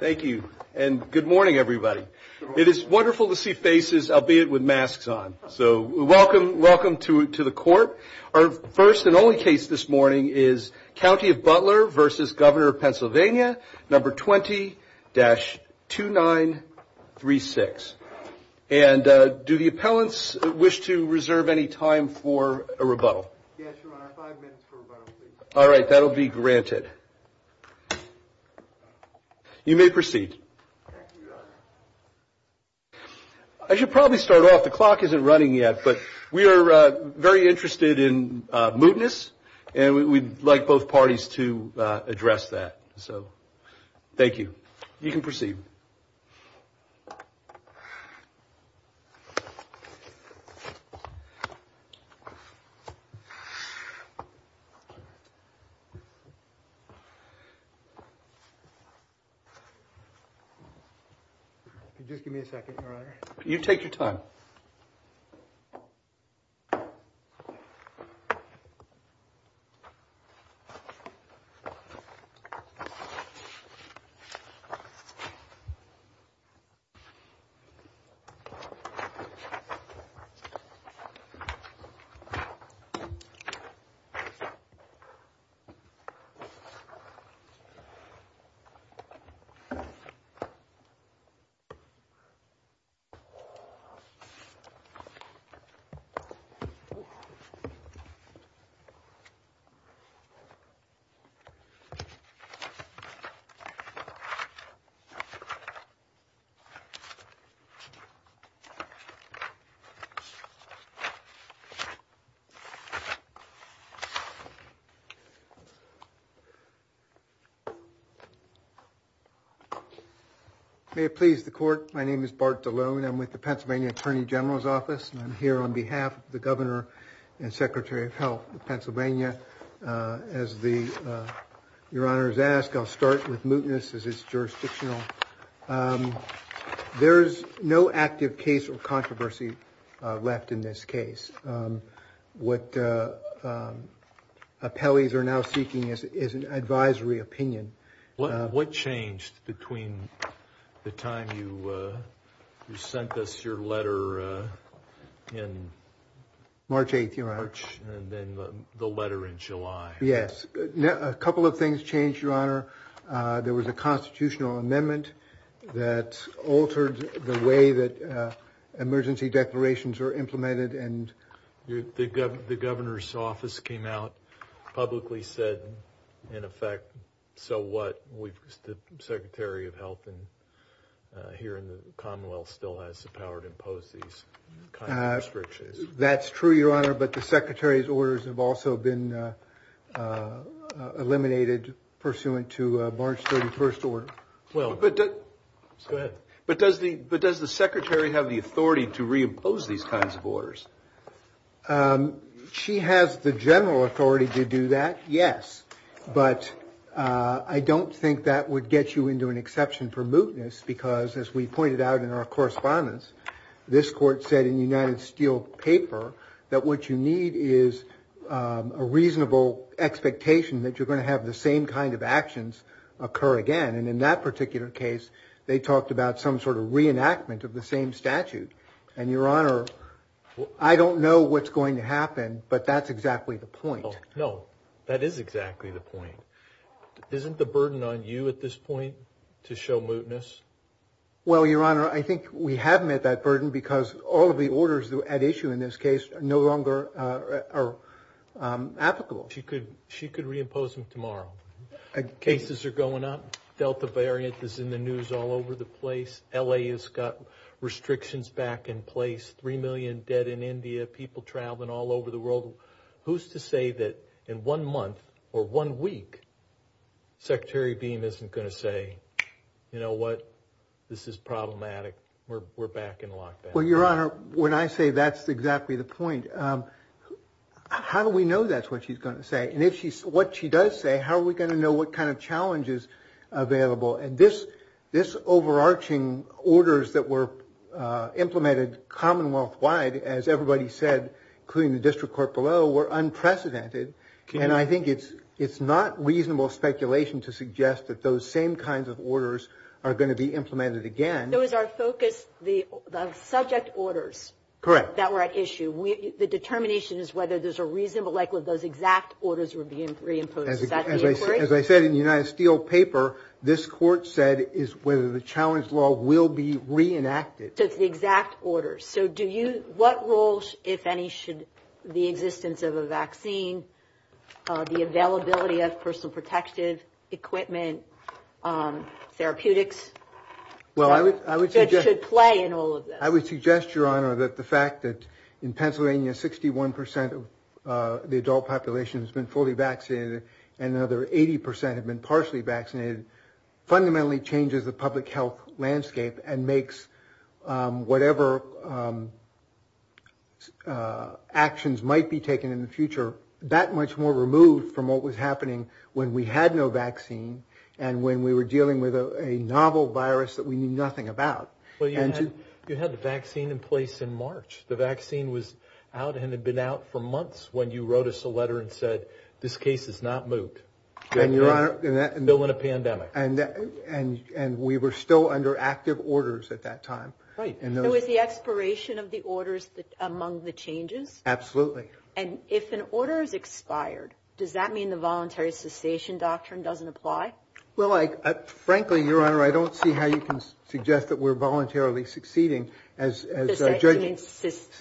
Thank you and good morning everybody. It is wonderful to see faces, albeit with masks on. So welcome, welcome to the court. Our first and only case this morning is County of Butler v. Governor of Pennsylvania, number 20-2936. And do the appellants wish to reserve any time for a rebuttal? All right, that'll be granted. You may proceed. I should probably start off, the clock isn't running yet, but we are very interested in mootness and we'd like both parties to address that. So, thank you. You can proceed. Just give me a second, Your Honor. You take your time. May it please the court, my name is Bart DeLone. I'm with the Pennsylvania Attorney General's Office and I'm here on behalf of the Governor and Secretary of Health of Pennsylvania. As Your Honor has asked, I'll start with mootness as jurisdictional. There's no active case or controversy left in this case. What appellees are now seeking is an advisory opinion. What changed between the time you sent us your letter in March 8th and then the letter in July? Yes, a couple of that altered the way that emergency declarations are implemented and the governor's office came out, publicly said, in effect, so what? The Secretary of Health here in the Commonwealth still has the power to impose these kinds of restrictions. That's true, Your Honor, but the Secretary's orders have also been eliminated pursuant to March 31st order. Well, but does the Secretary have the authority to reimpose these kinds of orders? She has the general authority to do that, yes, but I don't think that would get you into an exception for mootness because, as we pointed out in our correspondence, this court said in the United Steel paper that what you need is a reasonable expectation that you're going to have the same kind of actions occur again, and in that particular case, they talked about some sort of reenactment of the same statute, and, Your Honor, I don't know what's going to happen, but that's exactly the point. No, that is exactly the point. Isn't the burden on you at this point to show mootness? Well, Your Honor, I think we have met that burden because all the orders at issue in this case no longer are applicable. She could reimpose them tomorrow. Cases are going up. Delta variant is in the news all over the place. L.A. has got restrictions back in place. Three million dead in India. People traveling all over the world. Who's to say that in one month or one week, Secretary Bean isn't going to say, you know what, this is Well, Your Honor, when I say that's exactly the point, how do we know that's what she's going to say? And if she's what she does say, how are we going to know what kind of challenges available? And this this overarching orders that were implemented commonwealth wide, as everybody said, including the district court below, were unprecedented. And I think it's it's not reasonable speculation to suggest that those same kinds of orders are going to be orders. Correct. That right issue. The determination is whether there's a reasonable likelihood those exact orders were being reimposed. As I said in the United Steel paper, this court said is whether the challenge law will be reenacted. That's the exact orders. So do you what rules, if any, should the existence of a vaccine, the availability of personal protective equipment, um, therapeutics? Well, I would play in all of them. I would suggest, Your Honor, that the fact that in Pennsylvania, 61% of the adult population has been fully vaccinated, and another 80% have been partially vaccinated, fundamentally changes the public health landscape and makes whatever, um, uh, actions might be taken in the future that much more removed from what was happening when we had no vaccine and when we were dealing with a novel virus that we knew nothing about. You had the vaccine in place in March. The vaccine was out and had been out for months when you wrote us a letter and said, This case is not moved. No pandemic. And we were still under active orders at that time. Right. And it was the expiration of the orders that among the changes. Absolutely. And if an order is expired, does that mean the voluntary cessation doctrine doesn't apply? Well, like, frankly, Your Honor, I don't see how you can suggest that we're voluntarily succeeding as a judge.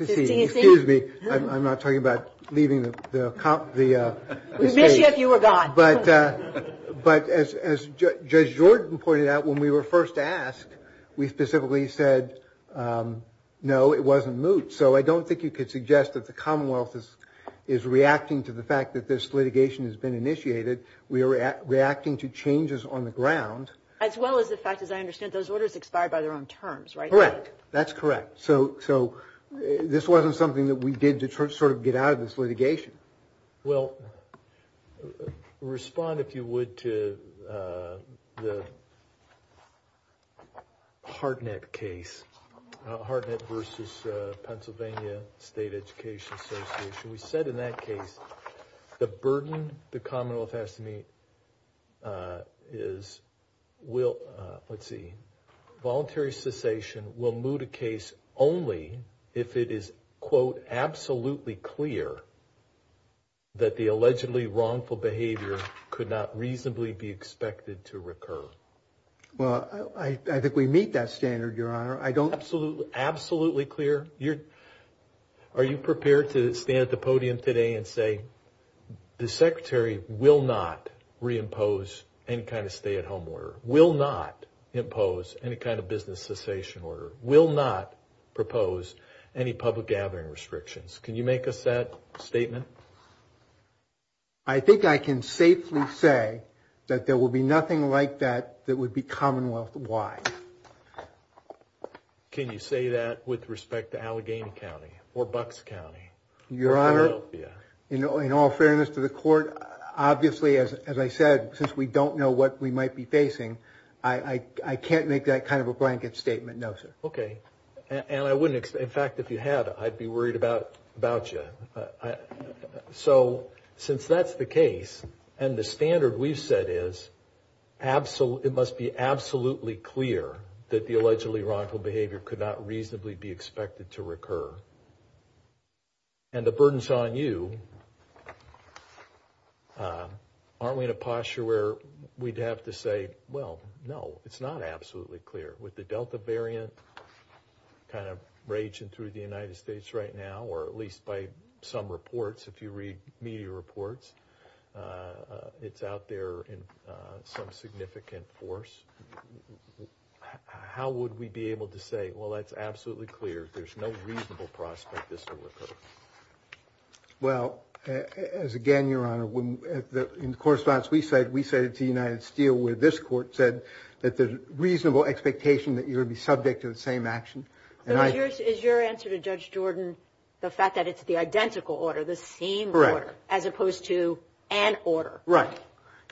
Excuse me. I'm not talking about leaving the cop. The maybe if you were gone, but but as Judge Jordan pointed out when we were first asked, we specifically said, um, no, it wasn't moved. So I don't think you could suggest that the Commonwealth is is reacting to the fact that this litigation has been initiated. We're reacting to changes on the ground as well as the fact that I understand those orders expired by their own terms, right? Correct. That's correct. So so this wasn't something that we did to sort of get out of this litigation. Well, respond if you would to, uh, the hard net case hard versus Pennsylvania State Education Association. We said in that case, the burden the Commonwealth has to me, uh, is will let's see. Voluntary cessation will move the case only if it is, quote, absolutely clear that the allegedly wrongful behavior could not reasonably be expected to recur. Well, I think we meet that standard, Your Honor. I don't absolutely clear. You're Are you prepared to stand at the podium today and say the secretary will not reimpose any kind of stay at home order will not impose any kind of business cessation order will not propose any public gathering restrictions. Can you make us that statement? I think I can safely say that there will be nothing like that. That would be commonwealth wide. Can you say that with respect to Allegheny County or Bucks County, Your Honor? You know, in all fairness to the court, obviously, as I said, since we don't know what we might be facing, I can't make that kind of a blanket statement. No, sir. Okay. And I wouldn't. In fact, if you had, I'd be worried about about you. So since that's the case and the standard we've said is absolute, it must be absolutely clear that the allegedly wrongful behavior could not reasonably be expected to recur and the burdens on you. Uh, aren't we in a posture where we'd have to say, Well, no, it's not absolutely clear with the delta variant kind of raging through the United States right now, or at least by some reports. If you read media reports, uh, it's out there in some significant force. How would we be able to say? Well, that's absolutely clear. There's no reasonable prospect. Well, as again, Your Honor, when in the correspondence we said, we said it to United Steel with this court said that the reasonable expectation that you would be subject to the same action is your answer to Judge Jordan. The fact that it's the identical order the same order as opposed to an order, right?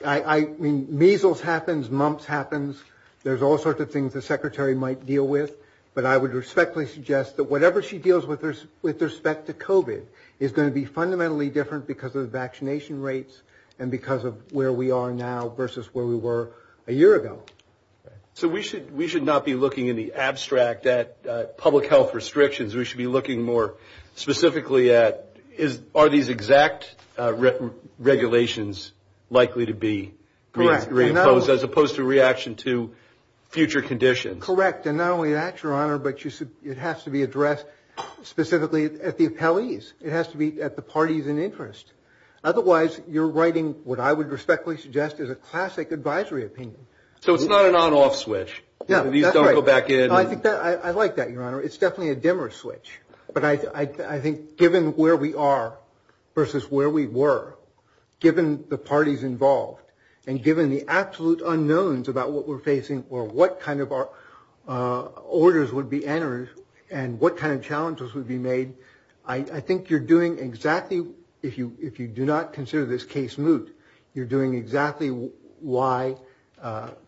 I mean, measles happens, mumps happens. There's all sorts of things the secretary might deal with. But I would respectfully suggest that whatever she deals with with respect to Kobe is going to be fundamentally different because of the vaccination rates and because of where we are now versus where we were a year ago. So we should we should not be looking in the abstract that public health restrictions. We should be looking more specifically. That is, are these exact regulations likely to be reimposed as opposed to reaction to future conditions? Correct. And not only that, Your Honor, but it has to be addressed specifically at the appellees. It has to be at the parties in interest. Otherwise you're writing what I would respectfully suggest is a classic advisory opinion. So it's not an on off switch. You don't go back in. I like that, Your Honor. It's definitely a dimmer switch. But I think given where we are versus where we were, given the parties involved and given the absolute unknowns about what we're facing or what kind of our orders would be entered and what kind of challenges would be made, I think you're doing exactly if you if you do not consider this case moot, you're doing exactly why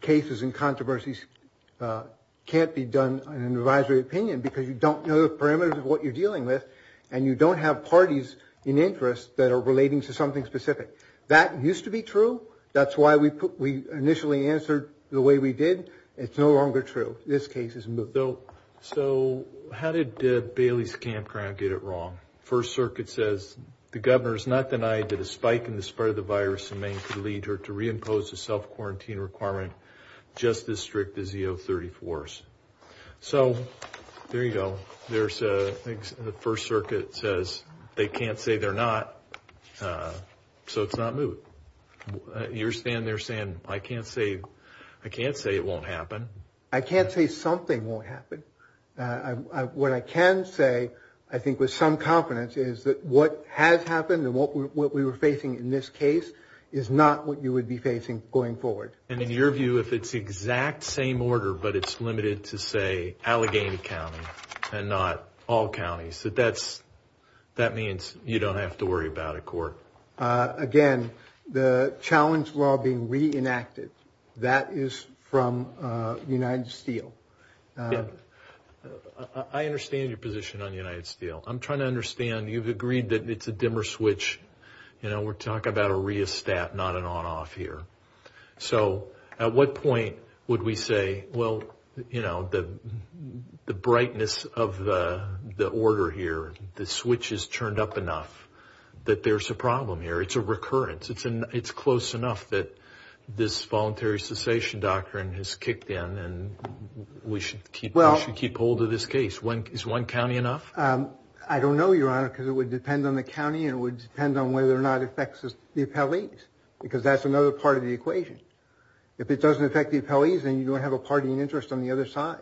cases and an advisory opinion because you don't know the parameters of what you're dealing with and you don't have parties in interest that are relating to something specific. That used to be true. That's why we we initially answered the way we did. It's no longer true. This case is no. So how did Bailey's campground get it wrong? First Circuit says the governor is not denied that a spike in the spread of the virus in Maine could lead her to reimpose the self quarantine requirement just as strict as the O-34s. So there you go. There's the First Circuit says they can't say they're not so it's not moot. You're standing there saying I can't say I can't say it won't happen. I can't say something won't happen. What I can say I think with some confidence is that what has happened and what we were facing in this case is not what you would be facing going forward. And in your view if it's the exact same order but it's limited to say Allegheny County and not all counties that that's that means you don't have to worry about a court. Again the challenge law being reenacted that is from United Steel. I understand your position on United Steel. I'm trying to understand you've agreed that it's a dimmer switch. You know we're talking about a re-estat not an on off here. So at what point would we say well you know the the brightness of the the order here the switch is turned up enough that there's a problem here. It's a recurrence. It's in it's close enough that this voluntary cessation doctrine has kicked in and we should keep well keep hold of this case. When is one county enough? I don't know your honor because it would depend on the county and would depend on whether or not it affects the appellate because that's another part of the equation. If it doesn't affect the appellees and you don't have a party in interest on the other side.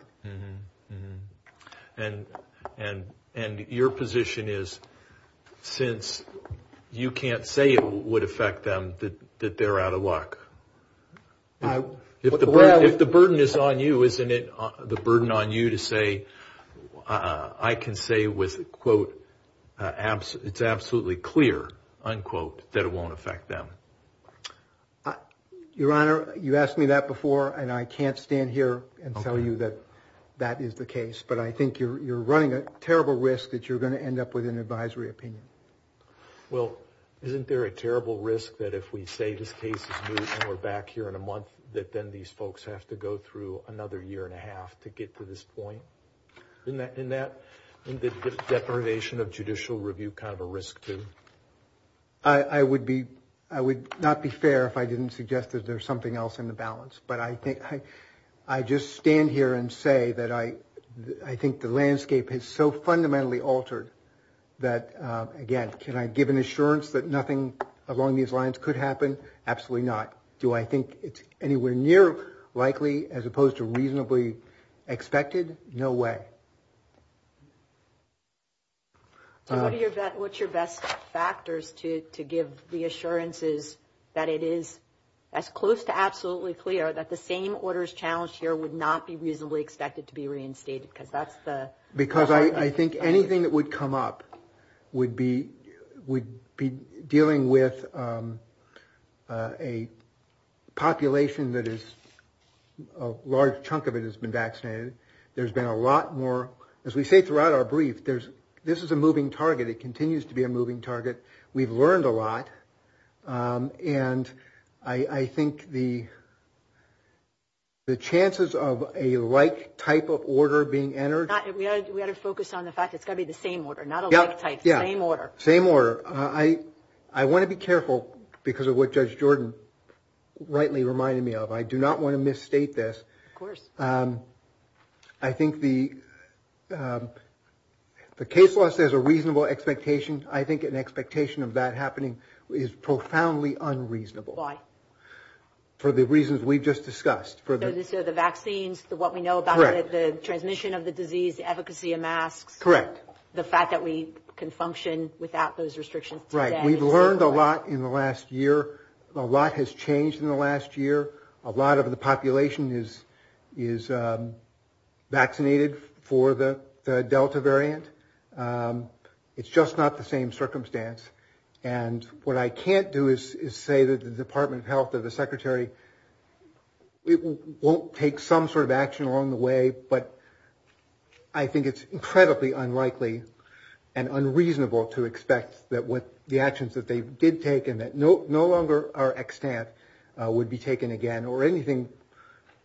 And and and your position is since you can't say it would affect them that they're out of luck. If the way if the burden is on you isn't it the burden on you to say I can say with quote it's absolutely clear unquote that it won't affect them. Your honor you asked me that before and I can't stand here and tell you that that is the case. But I think you're running a terrible risk that you're going to end up with an advisory opinion. Well isn't there a terrible risk that if we say this case is back here in a month that then these folks have to go through another year and a half to get to this point? Isn't that deprivation of judicial review kind of a risk too? I would be I would not be fair if I didn't suggest that there's something else in the balance. But I think I just stand here and say that I I think the landscape is so fundamentally altered that again can I give an assurance that nothing along these lines could happen? Absolutely not. Do I think it's anywhere near likely as opposed to reasonably expected? No way. What's your best factors to give the assurances that it is as close to absolutely clear that the same orders challenged here would not be reasonably expected to be reinstated? Because I think anything that would come up would be would be dealing with a population that is a large chunk of it has been vaccinated. There's been a lot more as we say throughout our brief there's this is a moving target it continues to be a moving target. We've learned a lot and I think the the chances of a like type of order being entered. We have to focus on the fact it's going to be the same order not a like type, same order. Same order. I I want to be careful because of what Judge Jordan rightly reminded me of. I do not want to misstate this. Of course. I think the the case law says a reasonable expectation. I think an expectation of that happening is profoundly unreasonable. Why? For the reasons we've just discussed. For the vaccines, what we know about the transmission of the disease, efficacy of masks. Correct. The fact that we can function without those restrictions. Right. We've learned a lot in the last year. A lot has changed in the last year. A lot of the population is is um vaccinated for the delta variant. Um it's just not the same circumstance. And what I can't do is say that the Department of Health or the secretary it won't take some sort of I think it's incredibly unlikely and unreasonable to expect that with the actions that they did take and that no no longer our extent would be taken again or anything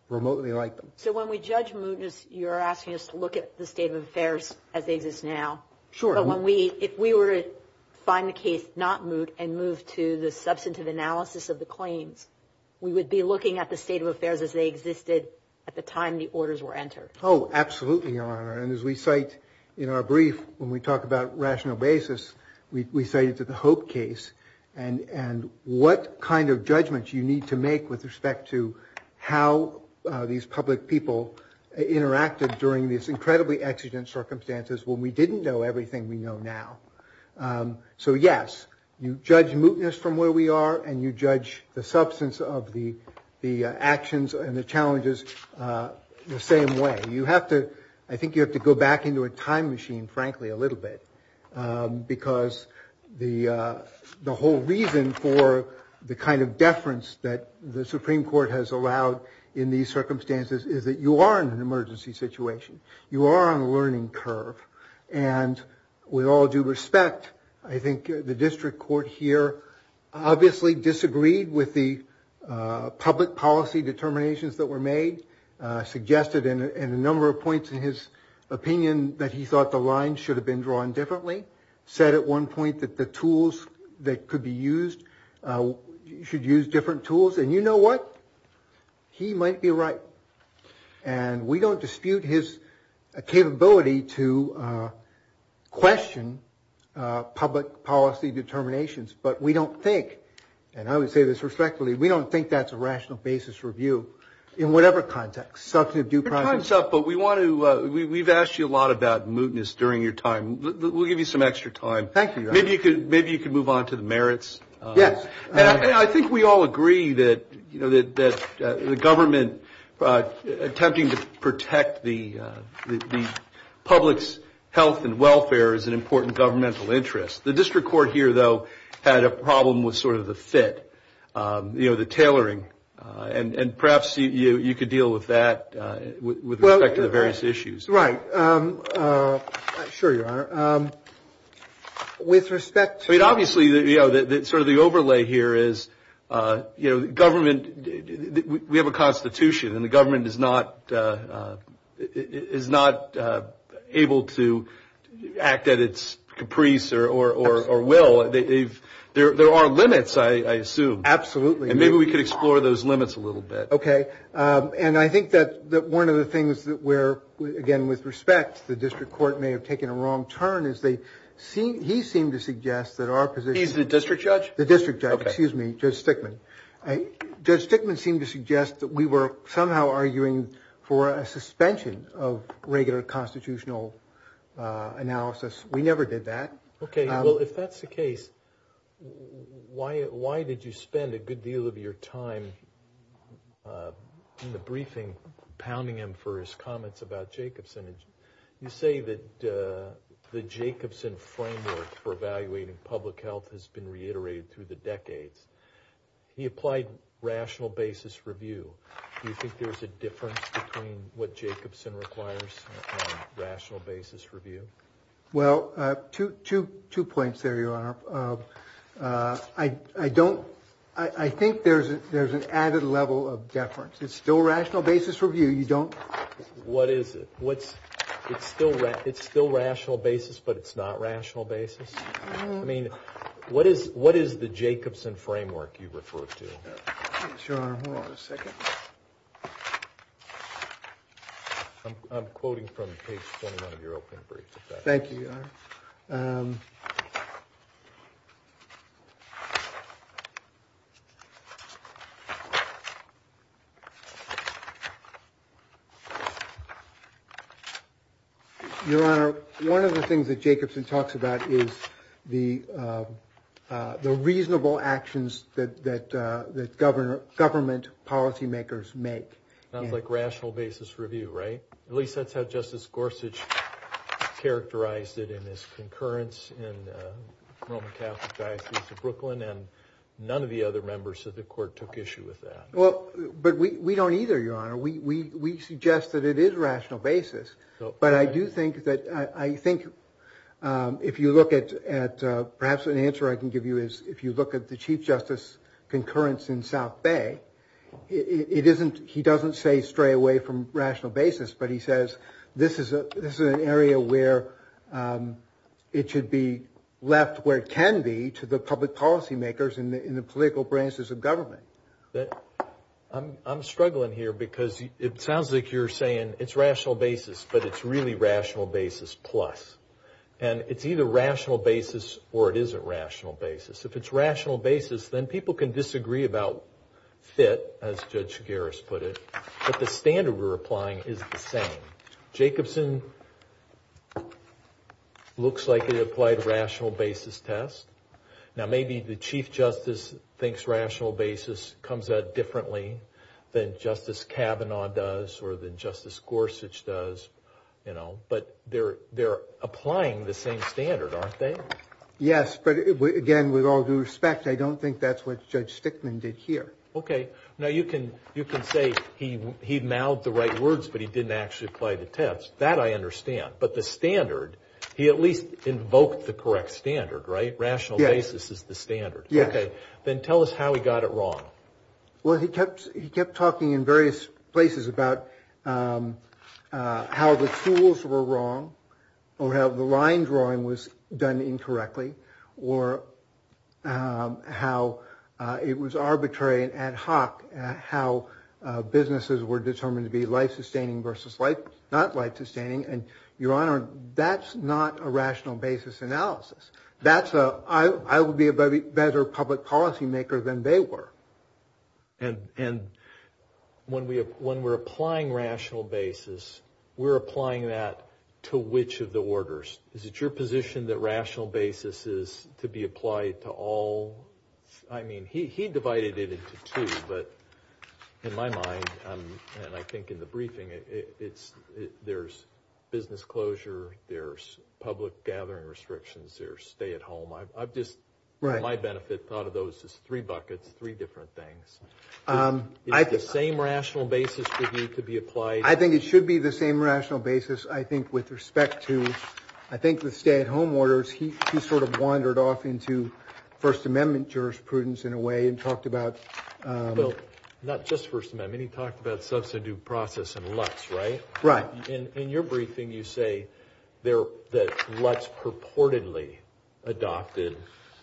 remotely like. So when we judge movements you're asking us to look at the state of affairs as they exist now. Sure. When we if we were to find the case not move and move to the substantive analysis of the claims we would be looking at the state of affairs as they existed at the time the orders were entered. Oh absolutely are. And as we cite in our brief when we talk about rational basis, we say it's a hope case and and what kind of judgment you need to make with respect to how these public people interacted during this incredibly exigent circumstances when we didn't know everything we know now. Um so yes, you judge mootness from where we are and you judge the way you have to I think you have to go back into a time machine frankly a little bit because the the whole reason for the kind of deference that the Supreme Court has allowed in these circumstances is that you are in an emergency situation. You are on a learning curve and with all due respect I think the district court here obviously disagreed with the public policy determinations that were made suggested in a number of points in his opinion that he thought the line should have been drawn differently said at one point that the tools that could be used should use different tools and you know what he might be right and we don't dispute his capability to question public policy determinations but we don't think and I would say this respectfully we don't think that's a rational basis review in whatever context. But we want to we've asked you a lot about mootness during your time we'll give you some extra time. Thank you. Maybe you could maybe you could move on to the merits. Yes. I think we all agree that you know that the government attempting to protect the public's health and welfare is an important governmental interest. The district court here though had a problem with sort of the fit you know the tailoring and and perhaps you could deal with that with respect to the various issues. Right. Sure you are. With respect to. Obviously you know that sort of the overlay here is you know the government we have a constitution and the government is not is not able to act at its caprice or will. There are limits I assume. Absolutely. Maybe we could explore those limits a little bit. Okay and I think that that one of the things that we're again with respect the district court may have taken a wrong turn as they see he seemed to suggest that our position. He's the district judge? The district judge. Excuse me. Judge Stickman. Judge Stickman seemed to suggest that we were somehow arguing for a suspension of regular constitutional analysis. We never did that. Okay well if that's the case why why did you spend a good deal of your time in the briefing pounding him for his comments about Jacobson? You say that the Jacobson framework for evaluating public health has been reiterated through the decades. He applied rational basis review. You think Two points there your honor. I don't I think there's there's an added level of deference. It's still rational basis review. You don't. What is it? What it's still it's still rational basis but it's not rational basis. I mean what is what is the Jacobson framework you refer to. Your honor hold on a second. I'm quoting from page 21 of your opening brief. Thank you your honor. Your honor one of the things that Jacobson talks about is the the reasonable actions that that that governor government policymakers make. Not like rational basis review right? At least that's how Justice Gorsuch characterized it in his concurrence in the Roman Catholic diocese of Brooklyn and none of the other members of the court took issue with that. Well but we we don't either your honor. We we we suggest that it is rational basis but I do think that I think if you look at at perhaps an answer I can give you is if you look at the Chief Justice concurrence in South Bay it isn't he doesn't say stray away from rational basis but he says this is a this is an area where it should be left where it can be to the public policymakers in the political branches of government. I'm struggling here because it sounds like you're saying it's rational basis but it's really rational basis plus and it's either rational basis or it is a rational basis. If it's rational basis then people can disagree about fit as standard we're applying is the same. Jacobson looks like he applied rational basis test. Now maybe the Chief Justice thinks rational basis comes out differently than Justice Kavanaugh does or than Justice Gorsuch does you know but they're they're applying the same standard aren't they? Yes but again with all due respect I don't think that's what Judge Stickman did here. Okay now you can you can say he he mouthed the right words but he didn't actually apply the test that I understand but the standard he at least invoked the correct standard right? Rational basis is the standard. Yes. Okay then tell us how he got it wrong. Well he kept he kept talking in various places about how the tools were wrong or how the line drawing was done incorrectly or how it was arbitrary ad hoc and how businesses were determined to be life-sustaining versus like not life-sustaining and your honor that's not a rational basis analysis that's a I would be a better public policymaker than they were. And and when we when we're applying rational basis we're applying that to which of the orders? Is it your position that rational basis is to be applied to all I mean he divided it into two but in my mind and I think in the briefing it's there's business closure, there's public gathering restrictions, there's stay at home. I've just for my benefit thought of those as three buckets three different things. Is the same rational basis for you to be applied? I think it should be the same rational basis I think with respect to I think the stay at home orders he sort of wandered off into First Amendment jurisprudence in a way in talked about not just First Amendment he talked about substitute process and LUTS right? Right. In your briefing you say there that LUTS purportedly adopted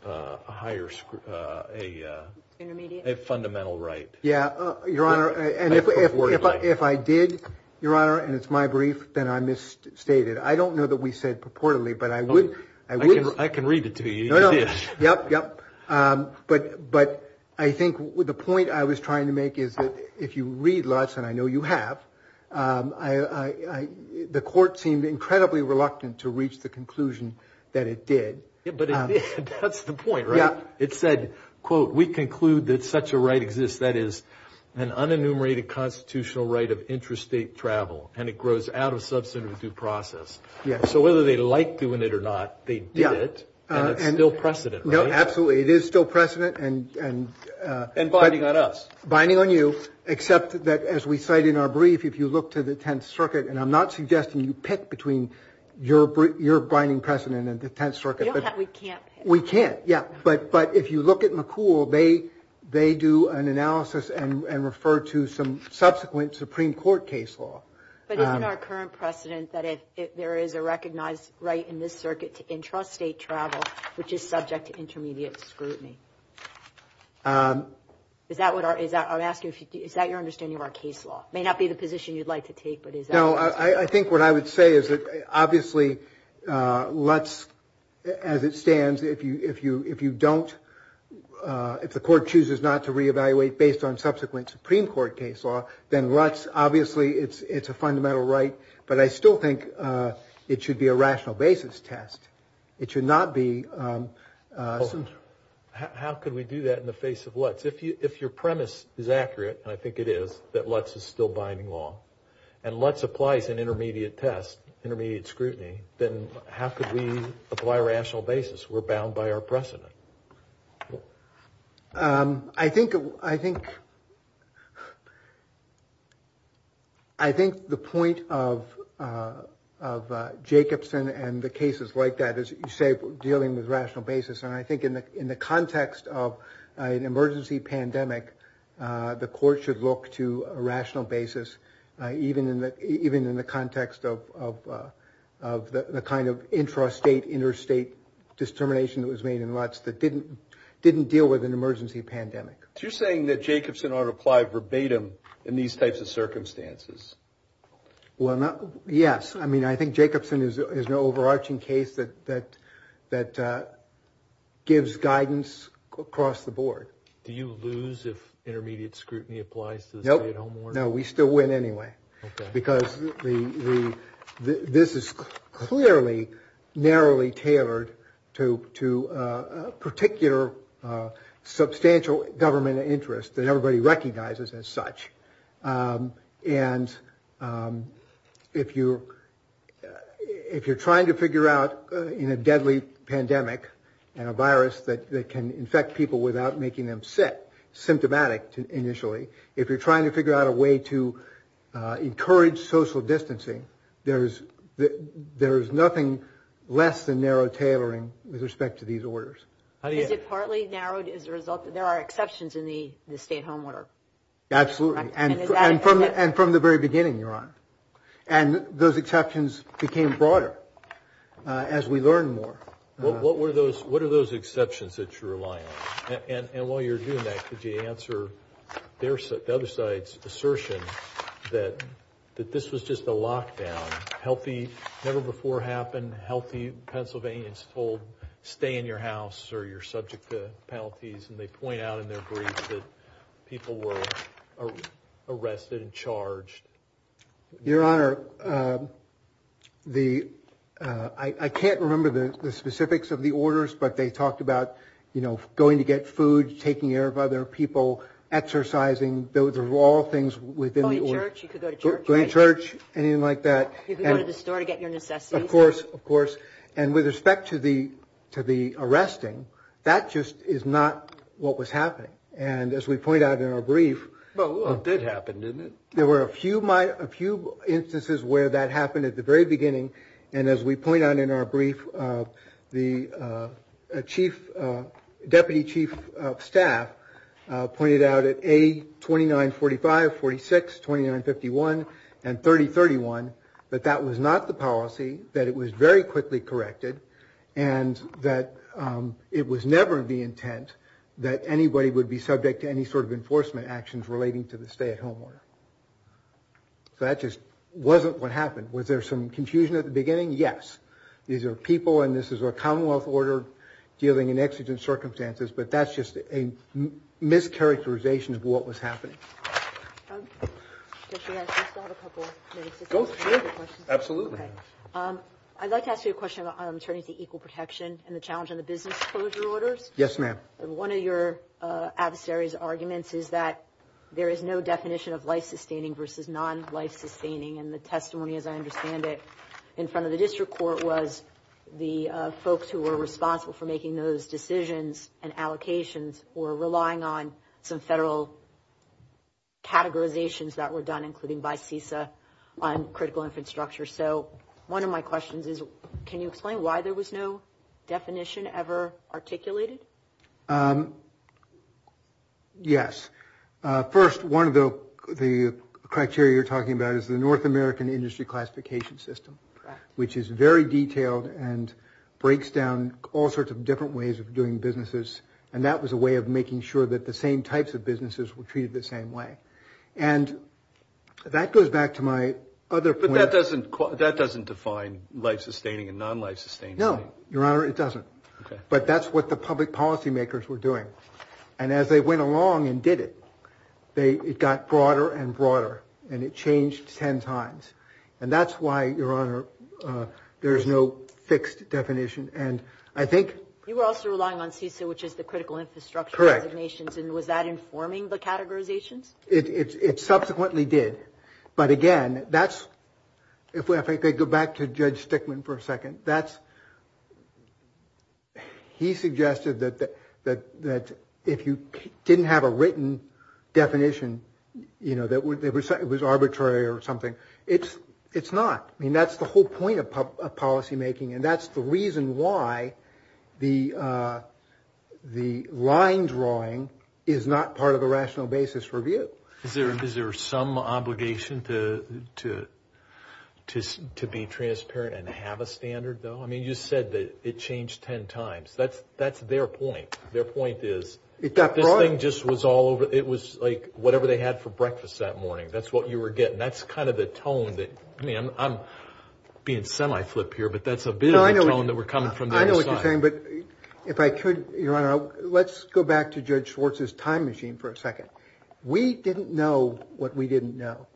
a higher a fundamental right. Yeah your honor and if I did your honor and it's my brief then I misstated. I don't know that we said purportedly but I would I think with the point I was trying to make is that if you read LUTS and I know you have I the court seemed incredibly reluctant to reach the conclusion that it did. But that's the point right? Yeah. It said quote we conclude that such a right exists that is an unenumerated constitutional right of interstate travel and it grows out of substantive due process. Yeah. So whether they like doing it or not they did it and it's still precedent. No absolutely it is still precedent and binding on us. Binding on you except that as we cite in our brief if you look to the Tenth Circuit and I'm not suggesting you pick between your binding precedent and the Tenth Circuit. We can't. We can't yeah but but if you look at McCool they they do an analysis and refer to some subsequent Supreme Court case law. But isn't our current precedent that there is a recognized right in this circuit to intrastate travel which is subject to intermediate scrutiny. Is that what I'm asking? Is that your understanding of our case law? May not be the position you'd like to take. No I think what I would say is that obviously LUTS as it stands if you if you if you don't if the court chooses not to reevaluate based on subsequent Supreme Court case law then LUTS obviously it's it's a fundamental right but I still think it should be a How could we do that in the face of LUTS? If you if your premise is accurate and I think it is that LUTS is still binding law and LUTS applies an intermediate test, intermediate scrutiny, then how could we apply rational basis? We're bound by our precedent. I think I think I think the point of of Jacobson and the context of an emergency pandemic the court should look to a rational basis even in the even in the context of the kind of intrastate interstate determination that was made in LUTS that didn't didn't deal with an emergency pandemic. You're saying that Jacobson ought to apply verbatim in these types of circumstances? Well not yes I mean I think Jacobson is an overarching case that that that gives guidance across the board. Do you lose if intermediate scrutiny applies? No no we still win anyway because this is clearly narrowly tailored to to a particular substantial government interest that everybody recognizes as such and if you if you're trying to figure out in a deadly pandemic and a virus that can infect people without making them sick symptomatic initially if you're trying to figure out a way to encourage social distancing there's there's nothing less than narrow tailoring with respect to these orders. Is it partly narrowed as a result there are exceptions in the state home order? Absolutely and from the very beginning your honor and those exceptions became broader as we learn more. What were those what are those exceptions that you're relying on and while you're doing that could you answer the other side's assertion that that this was just a lockdown healthy never before happened healthy Pennsylvanians told stay in your house or you're subject to penalties and they point out in their briefs that people were arrested and charged. Your honor the I can't remember the specifics of the orders but they talked about you know going to get food taking care of other people exercising those are all things within the church church anything like that of course of course and with respect to the to the arresting that just is not what was happening and as we point out in our brief well it did happen didn't it there were a few my a few instances where that happened at the very beginning and as we point out in our brief the chief deputy chief of a 29 45 46 29 51 and 30 31 but that was not the policy that it was very quickly corrected and that it was never the intent that anybody would be subject to any sort of enforcement actions relating to the state home order. So that just wasn't what happened was there some confusion at the beginning yes these are people and this is a Commonwealth order dealing in exigent circumstances but that's just a mischaracterization of what was happening. I'd like to ask you a question on returning to equal protection and the challenge on the business closure orders. Yes ma'am. One of your adversaries arguments is that there is no definition of life-sustaining versus non life-sustaining and the testimony as I understand it in front of the district court was the folks who were responsible for making those decisions and allocations or relying on some federal categorizations that were done including by FISA on critical infrastructure. So one of my questions is can you explain why there was no definition ever articulated? Yes first one of the the criteria you're talking about is the North American industry classification system which is very all sorts of different ways of doing businesses and that was a way of making sure that the same types of businesses were treated the same way and that goes back to my other point. That doesn't define life-sustaining and non life-sustaining. No your honor it doesn't but that's what the public policymakers were doing and as they went along and did it they it got broader and broader and it changed ten times and that's why your honor there is no fixed definition and I think. You were also relying on FISA which is the critical infrastructure. Correct. And was that informing the categorization? It subsequently did but again that's if we I think they go back to Judge Stickman for a second that's he suggested that that that if you didn't have a written definition you know that would it was it was arbitrary or something it's it's not I mean that's the whole point of policy making and that's the reason why the the line drawing is not part of the rational basis review. Is there some obligation to just to be transparent and have a standard though I mean you said that it changed ten times that's that's their point their point is it got broadened just was all over it was like whatever they had for breakfast that morning that's what you were getting that's kind of the tone that I'm being semi flip here but that's a bit of a tone that we're coming from. I know what you're saying but if I could your honor let's go back to Judge Schwartz's time machine for a second. We didn't know what we didn't know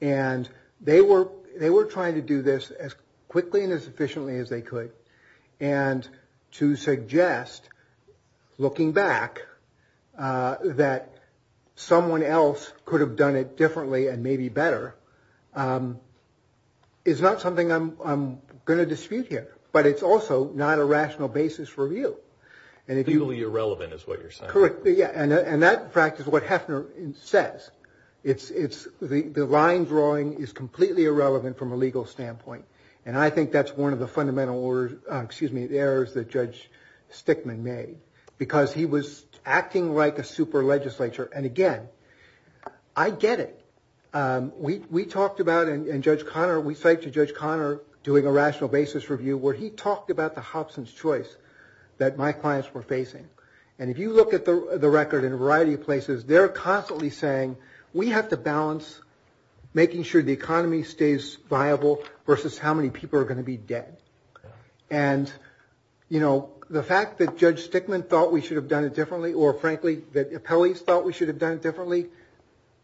and they were they were trying to do this as quickly and as efficiently as they could and to suggest looking back that someone else could have done it differently and maybe better it's not something I'm gonna dispute here but it's also not a rational basis for review and if you really irrelevant is what you're saying. Correct yeah and that practice what Hefner says it's it's the the line drawing is completely irrelevant from a legal standpoint and I think that's one of the fundamental or excuse me the errors that Judge Stickman made because he was acting like a super legislature and again I get it we talked about in Judge Conner we say to Judge Conner doing a rational basis review where he talked about the Hobson's choice that my clients were facing and if you look at the record in a variety of places they're constantly saying we have to balance making sure the economy stays viable versus how many people are going to be dead and you know the fact that Judge Stickman thought we should have done it differently or frankly that police thought we should have done it differently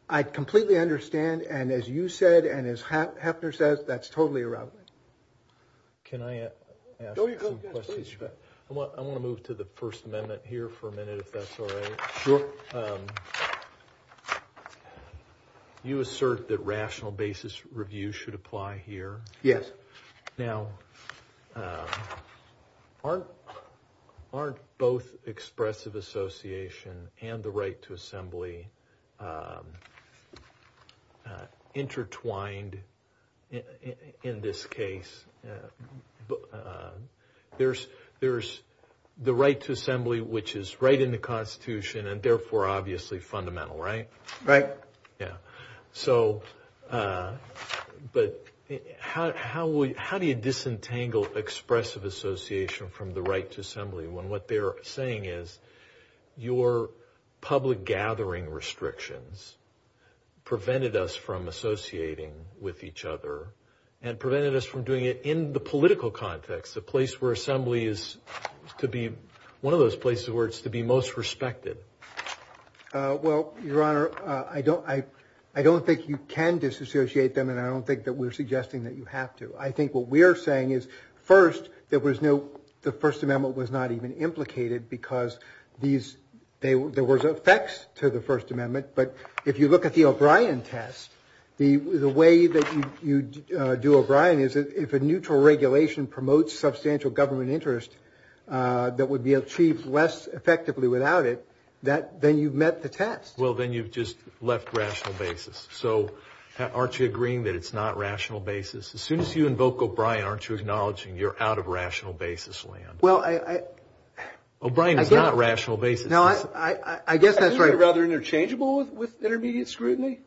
I completely understand and as you said and as Hefner says that's totally irrelevant. Can I ask a few questions? I want to move to the First Amendment here for a minute if that's all right. You assert that rational basis review should apply here. Yes. Now aren't both expressive association and the right to assembly intertwined in this case there's there's the right to assembly which is right in the Constitution and therefore obviously fundamental right? Right. Yeah so but how do you disentangle expressive association from the right to assembly when what they're saying is your public gathering restrictions prevented us from associating with each other and prevented us from doing it in the political context the place where assembly is to be one of those places where it's to be most respected. Well your honor I don't I I don't think you can disassociate them and I don't think that we're suggesting that you have to I think what we are saying is first there was no the First Amendment was not even implicated because these there was effects to the First Amendment but if you look at the O'Brien test the the way that you do O'Brien is if a neutral regulation promotes substantial government interest that would be achieved less effectively without it that then you've met the test. Well then you've just left rational basis so aren't you agreeing that it's not rational basis as soon as you invoke O'Brien aren't you acknowledging you're out of rational basis land. Well I. O'Brien is not rational basis. No I I guess that's right. Rather interchangeable with intermediate scrutiny.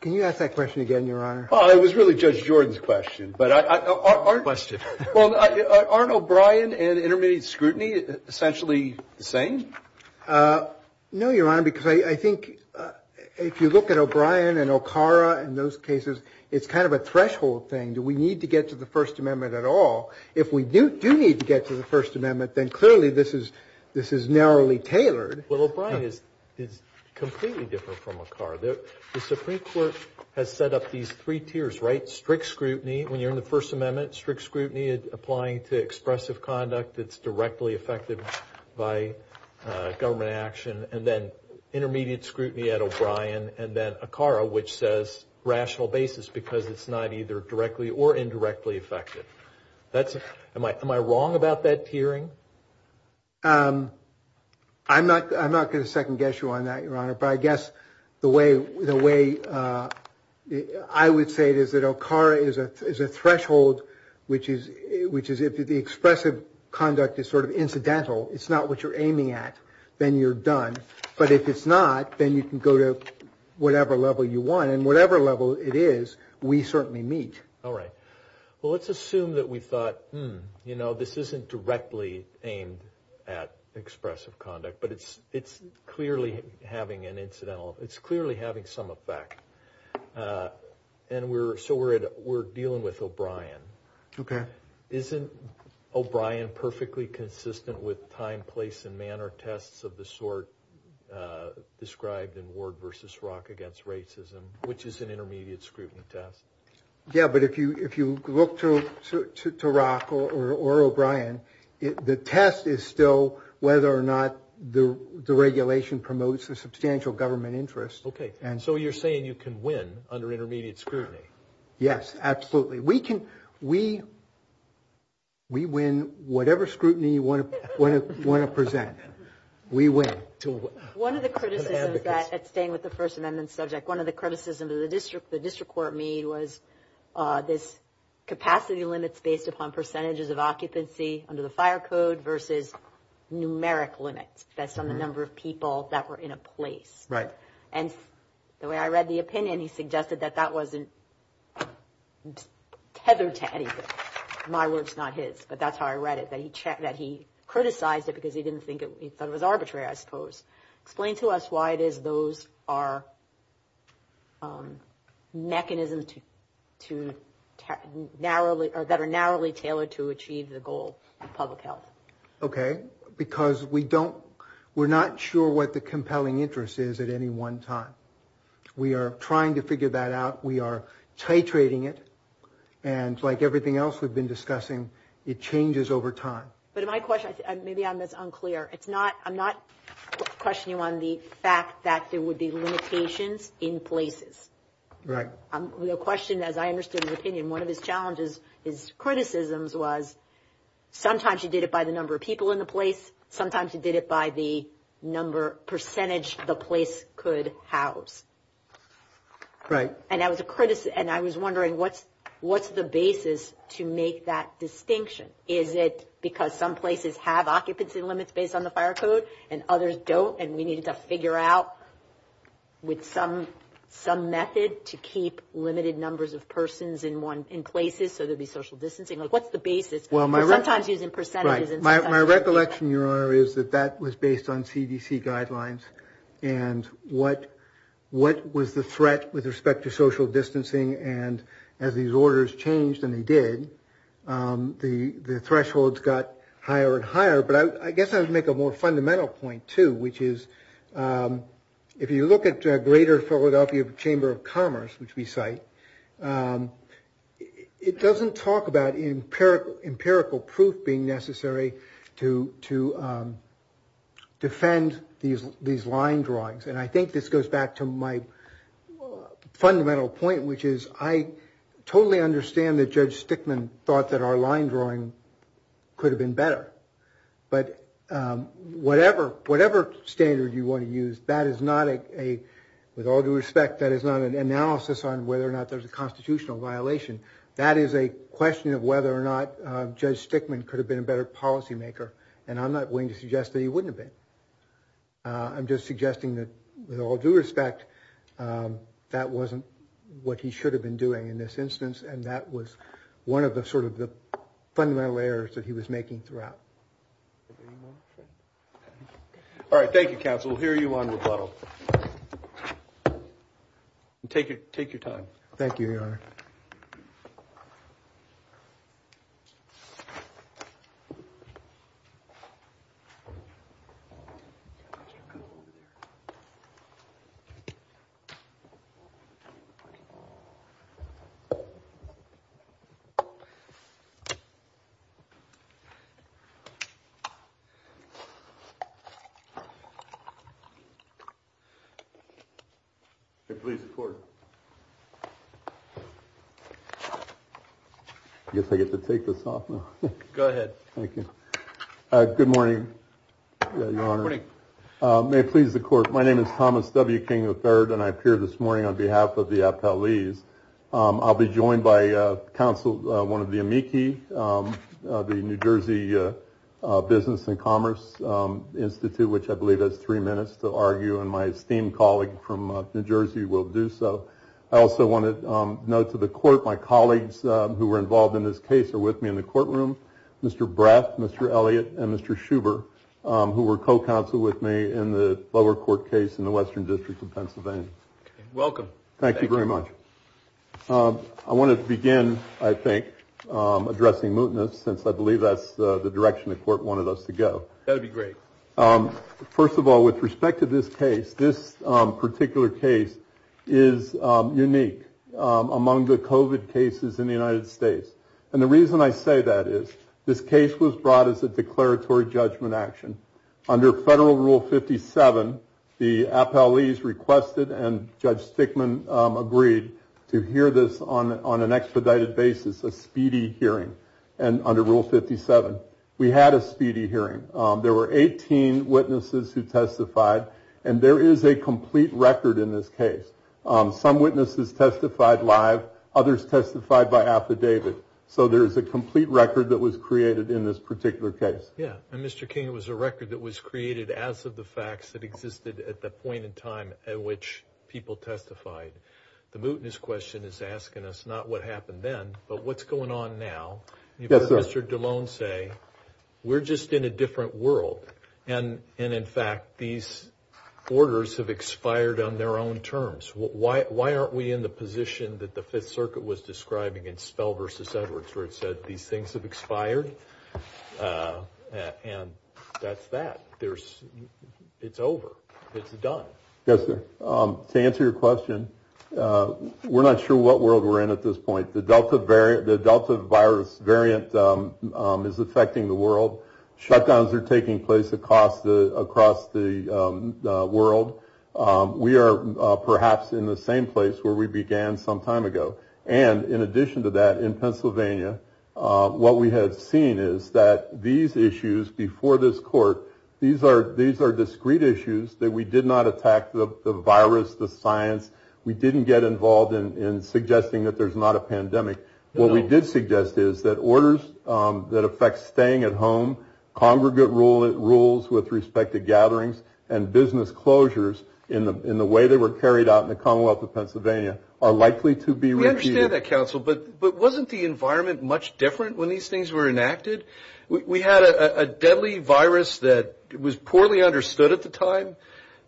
Can you ask that question again your honor? Well it was really Judge Jordan's question but aren't O'Brien and intermediate scrutiny essentially the same? No your honor because I think if you look at O'Brien and O'Cara and those cases it's kind of a threshold thing do we need to get to the First Amendment at all if we do need to get to the First Amendment then clearly this is this is narrowly tailored. Well O'Brien is completely different from O'Cara. The Supreme Court has set up these three tiers right strict scrutiny when you're in the First Amendment strict scrutiny is applying to expressive conduct that's directly affected by government action and then which says rational basis because it's not either directly or indirectly affected. That's am I am I wrong about that tiering? I'm not I'm not going to second guess you on that your honor but I guess the way the way I would say it is that O'Cara is a threshold which is which is if the expressive conduct is sort of incidental it's not what you're aiming at then you're done but if it's not then you can go to whatever level you want and whatever level it is we certainly meet. All right well let's assume that we thought hmm you know this isn't directly aimed at expressive conduct but it's it's clearly having an incidental it's clearly having some effect and we're so we're dealing with O'Brien. Okay. Isn't O'Brien perfectly consistent with time place and or tests of the sort described in Ward versus Rock against racism which is an intermediate scrutiny test? Yeah but if you if you look to Rock or O'Brien the test is still whether or not the the regulation promotes the substantial government interest. Okay and so you're saying you can win under intermediate scrutiny? Yes absolutely we can we we win whatever scrutiny you want to present we win. One of the criticisms of the first amendment subject one of the criticisms of the district the district court made was this capacity limits based upon percentages of occupancy under the fire code versus numeric limits that's on the number of people that were in a place. Right. And the way I read the opinion he suggested that that wasn't tethered to anything. My words not his but that's how I read it that he checked that he criticized it because he didn't think it was arbitrary I suppose. Explain to us why it is those are mechanisms to narrowly or that are narrowly tailored to achieve the goal of public health. Okay because we don't we're not sure what the compelling interest is at any one time. We are trying to figure that out we are titrating it and like everything else we've been discussing it changes over time. But my question maybe I'm this unclear it's not I'm not questioning on the fact that there would be limitations in places. Right. The question as I understood the opinion one of his challenges his criticisms was sometimes he did it by the number of people in the place sometimes he did it by the number percentage the place could house. Right. And that was a criticism and I was wondering what what's the basis to make that distinction. Is it because some places have occupancy limits based on the fire code and others don't and we need to figure out with some some method to keep limited numbers of persons in one in places so there'd be social distancing like what's the basis. Well my my recollection your honor is that that was based on CDC guidelines and what what was the threat with respect to social distancing and as these orders changed and they did the thresholds got higher and higher but I guess I would make a more fundamental point too which is if you look at a greater Philadelphia Chamber of Commerce which we cite it doesn't talk about in empirical proof being necessary to to defend these these line drawings and I think this goes back to my fundamental point which is I totally understand that Judge Stickman thought that our line drawing could have been better but whatever whatever standard you want to use that is not a with all due respect that is not an analysis on whether or not there's a constitutional violation that is a question of whether or not Judge Stickman could have been a better policymaker and I'm not going to suggest that he wouldn't have been I'm just suggesting that with all due respect that wasn't what he should have been doing in this instance and that was one of the sort of the fundamental errors that he was making throughout. All right thank you counsel we'll hear you on the phone. Take your time. Thank you, your honor. I guess I get to take this off now. Go ahead. Thank you. Good morning, your honor. Good morning. May it please the court, my name is Thomas W. King III and I appear this morning on behalf of the FLEs. I'll be joined by counsel one of the amici the New Jersey Business and my esteemed colleague from New Jersey will do so. I also want to note to the court my colleagues who were involved in this case are with me in the courtroom Mr. Brett, Mr. Elliott, and Mr. Schubert who were co-counsel with me in the lower court case in the western districts of Pennsylvania. Welcome. Thank you very much. I want to begin I think addressing mootness since I believe that's the direction the court wanted us to go. That'd be great. First of all with respect to this case this particular case is unique among the COVID cases in the United States and the reason I say that is this case was brought as a declaratory judgment action. Under federal rule 57 the FLEs requested and Judge Stickman agreed to hear this on on an expedited basis a speedy hearing and under rule 57 we had a speedy hearing. There were 18 witnesses who testified and there is a complete record in this case. Some witnesses testified live others testified by affidavit. So there is a complete record that was created in this particular case. Yeah and Mr. King it was a record that was created as of the facts that existed at the point in time at which people testified. The mootness question is asking us not what happened then but what's going on now. Mr. DeLone say we're just in a different world and and in fact these orders have expired on their own terms. Why aren't we in the position that the Fifth Circuit was describing in Spell versus Edwards where it said these things have expired and that's that. There's it's over. It's done. Yes sir. To answer your question we're not sure what world we're in at this point. The Delta variant the is affecting the world. Shutdowns are taking place across the across the world. We are perhaps in the same place where we began some time ago and in addition to that in Pennsylvania what we had seen is that these issues before this court these are these are discrete issues that we did not attack the virus the science. We didn't get involved in suggesting that there's not a pandemic. What we did suggest is that orders that affect staying at home congregate rule it rules with respect to gatherings and business closures in the in the way they were carried out in the Commonwealth of Pennsylvania are likely to be. We understand that counsel but but wasn't the environment much different when these things were enacted. We had a deadly virus that was poorly understood at the time.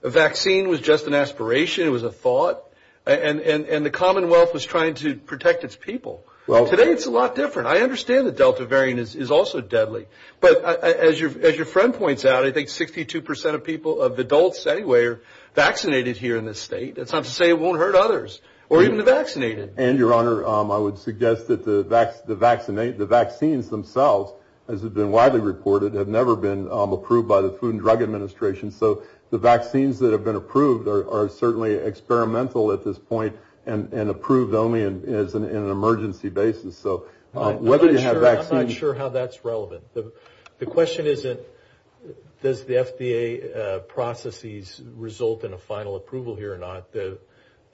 A vaccine was just an aspiration. It was a thought and and and the Commonwealth was trying to protect its people. Well today it's a lot different. I understand the Delta variant is also deadly but as your as your friend points out I think 62% of people of adults anywhere vaccinated here in this state. That's not to say it won't hurt others or even the vaccinated and your honor. Um I would suggest that the the vaccinate the vaccines themselves as it's been widely reported have never been approved by the Food and Drug Administration. So the vaccines that have been approved are certainly experimental at this point and and approved only as an in an emergency basis. So whether you have vaccine, I'm not sure how that's relevant. The question is that does the FDA processes result in a final approval here or not? The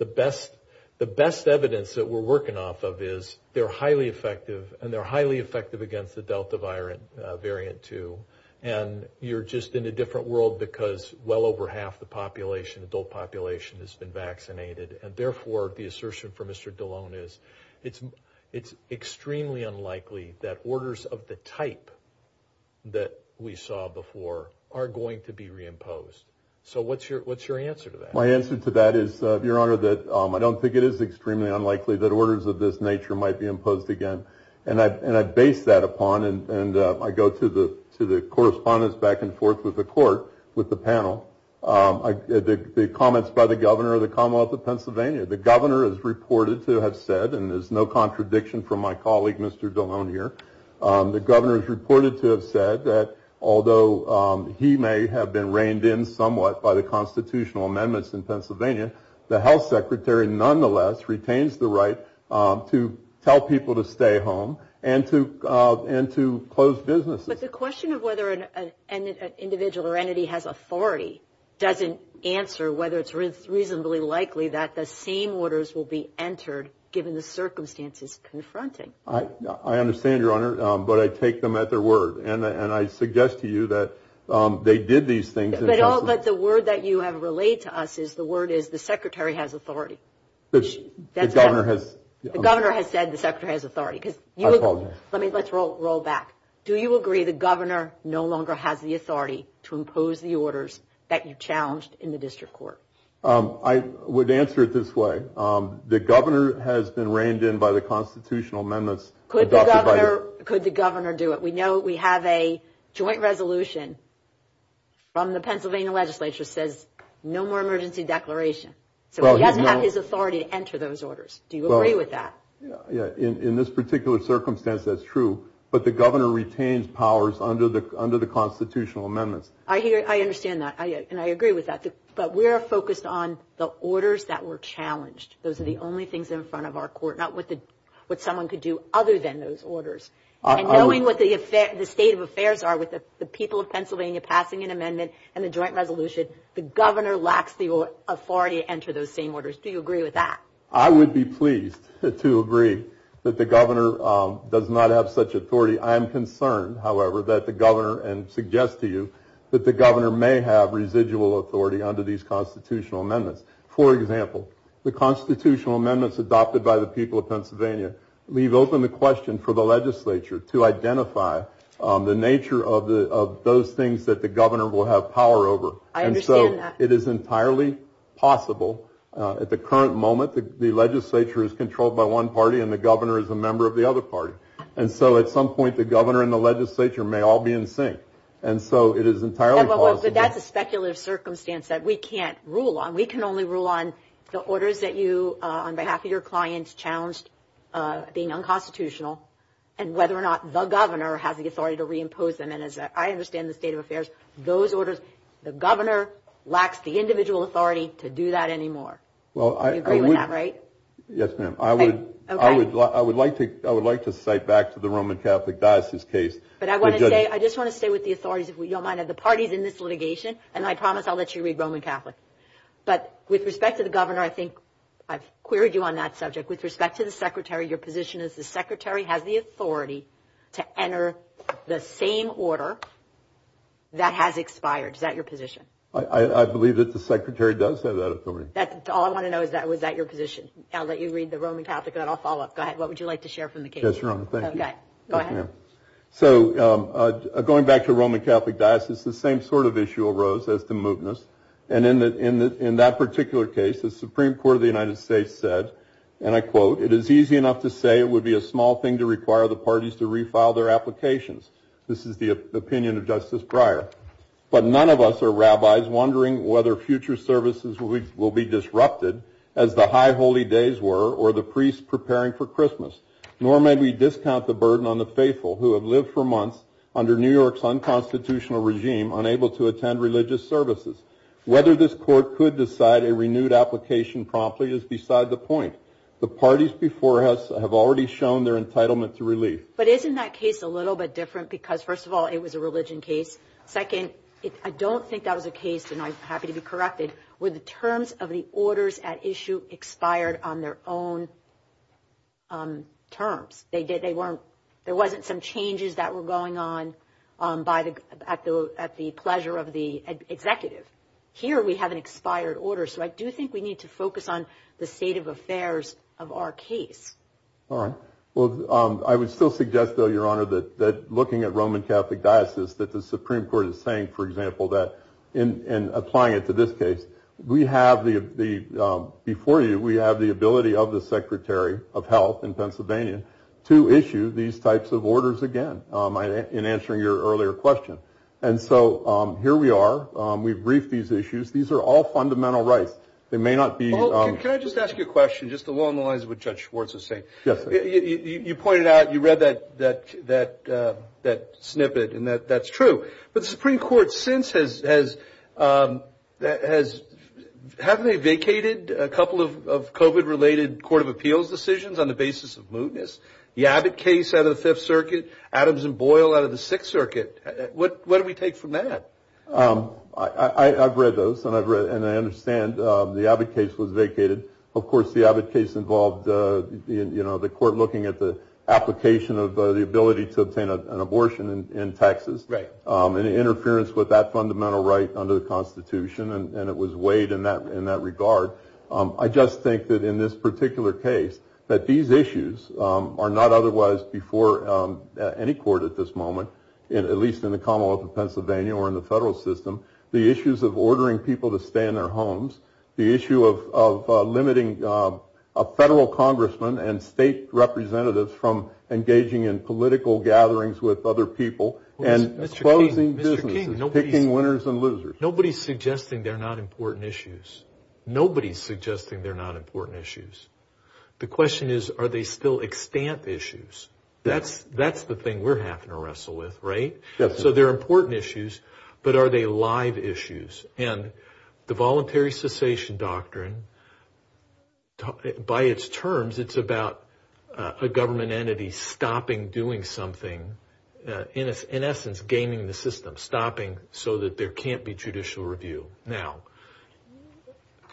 best the best evidence that we're working off of is they're highly effective and they're highly effective against the Delta variant variant too. And you're just in a different world because well over half the population adult population has been vaccinated and therefore the assertion for Mr Delon is it's it's extremely unlikely that orders of the type that we saw before are going to be reimposed. So what's your what's your answer to that? My answer to that is your honor that I don't think it is extremely unlikely that orders of this nature might be imposed again. And I and I based that upon and and I go to the to the correspondence back and forth with the panel. The comments by the governor of the Commonwealth of Pennsylvania. The governor is reported to have said and there's no contradiction from my colleague Mr. Delon here. The governor is reported to have said that although he may have been reined in somewhat by the constitutional amendments in Pennsylvania, the health secretary nonetheless retains the right to tell people to stay home and to and to close business. But the question of whether an individual or entity has authority doesn't answer whether it's reasonably likely that the same orders will be entered given the circumstances confronted. I understand your honor but I take them at their word and and I suggest to you that they did these things. But the word that you have relayed to us is the word is the secretary has authority. The governor has the governor has said the secretary has authority. Let's roll back. Do you agree the governor no longer has the authority to impose the orders that you challenged in the district court? I would answer it this way. The governor has been reined in by the constitutional amendments. Could the governor could the governor do it? We know we have a joint resolution from the Pennsylvania legislature says no more emergency declaration. So he doesn't have his authority to enter those orders. Do you agree with that? Yeah in in this particular circumstance that's true but the governor retains powers under the under the constitutional amendment. I hear I understand that and I agree with that but we are focused on the orders that were challenged. Those are the only things in front of our court not what the what someone could do other than those orders. Knowing what the state of affairs are with the people of Pennsylvania passing an amendment and the joint resolution the governor lacks the authority to enter those same orders. Do you agree with that? I would be pleased to agree that the governor does not have such authority. I'm concerned however that the governor and suggest to you that the governor may have residual authority under these constitutional amendments. For example the constitutional amendments adopted by the people of Pennsylvania leave open the question for the legislature to identify the nature of the of those things that the governor will have power over. I understand that. It is entirely possible at the current moment the legislature is controlled by one party and the governor is a member of the other party and so at some point the governor and the legislature may all be in sync and so it is entirely possible. But that's a speculative circumstance that we can't rule on. We can only rule on the orders that you on behalf of your clients challenged being unconstitutional and whether or not the governor has the authority to reimpose them and as I understand the state of affairs those orders the governor lacks the individual authority to do that anymore. Well I agree with that, right? Yes ma'am. I would like to cite back to the Roman Catholic diocese case. But I want to say I just want to stay with the authorities if we don't mind that the parties in this litigation and I promise I'll let you read Roman Catholic. But with respect to the governor I think I've queried you on that subject with respect to the secretary your position is the secretary has the authority to enter the same order that has expired. Is that your position? I believe that the secretary does say that. That's all I want to know is that was that your position. I'll let you read the Roman Catholic and I'll follow up. Go ahead. What would you like to share from the case? So going back to Roman Catholic Diocese the same sort of issue arose as the movements and in the in that particular case the Supreme Court of the United States said and I quote it is easy enough to say it would be a small thing to require the parties to refile their applications. This is the opinion of Justice Breyer. But none of us are rabbis wondering whether future services will be disrupted as the High Holy Days were or the priests preparing for Christmas. Nor may we discount the burden on the faithful who have lived for months under New York's unconstitutional regime unable to attend religious services. Whether this court could decide a renewed application promptly is beside the point. The parties before us have already shown their entitlement to relief. But isn't that case a little bit different because first of all it was a religion case. Second, I don't think that was a case and I'm happy to be corrected where the terms of the orders at issue expired on their own terms. They did they weren't there wasn't some changes that were going on by the at the at the pleasure of the executive. Here we have an expired order so I do think we need to focus on the state of affairs of our case. All right well I would still suggest though your honor that that looking at Roman Catholic Diocese that the Supreme Court is saying for example that in applying it to this case we have the before you we have the ability of the Secretary of Health in Pennsylvania to issue these types of orders again in answering your earlier question. And so here we are we briefed these issues. These are all fundamental rights. They may not be. Can I just ask you a question just along the lines of what Judge Schwartz is saying. You pointed out you read that that that that snippet and that that's true. But the Supreme Court since has that has haven't vacated a couple of COVID related Court of Appeals decisions on the basis of mootness. The Abbott case out of the Fifth Circuit, Adams and Boyle out of the Sixth Circuit. What what do we take from that? I've read those and I've read and I understand the Abbott case was vacated. Of course the Abbott case involved you know the court looking at the application of the ability to obtain an abortion in Texas. Right. And interference with that fundamental right under the Constitution and it was weighed in that in that regard. I just think that in this particular case that these issues are not otherwise before any court at this moment and at least in the Commonwealth of Pennsylvania or in the federal system. The issues of ordering people to stay in their homes. The issue of limiting a federal congressman and state representatives from engaging in political gatherings with other people and closing businesses. Picking winners and losers. Nobody's suggesting they're not important issues. Nobody's suggesting they're not important issues. The question is are they still extant issues? That's that's the thing we're having to wrestle with right? So they're important issues but are they live issues? And the voluntary cessation doctrine by its terms it's about a government entity stopping doing something. In essence gaining the system. Stopping so that there can't be judicial review. Now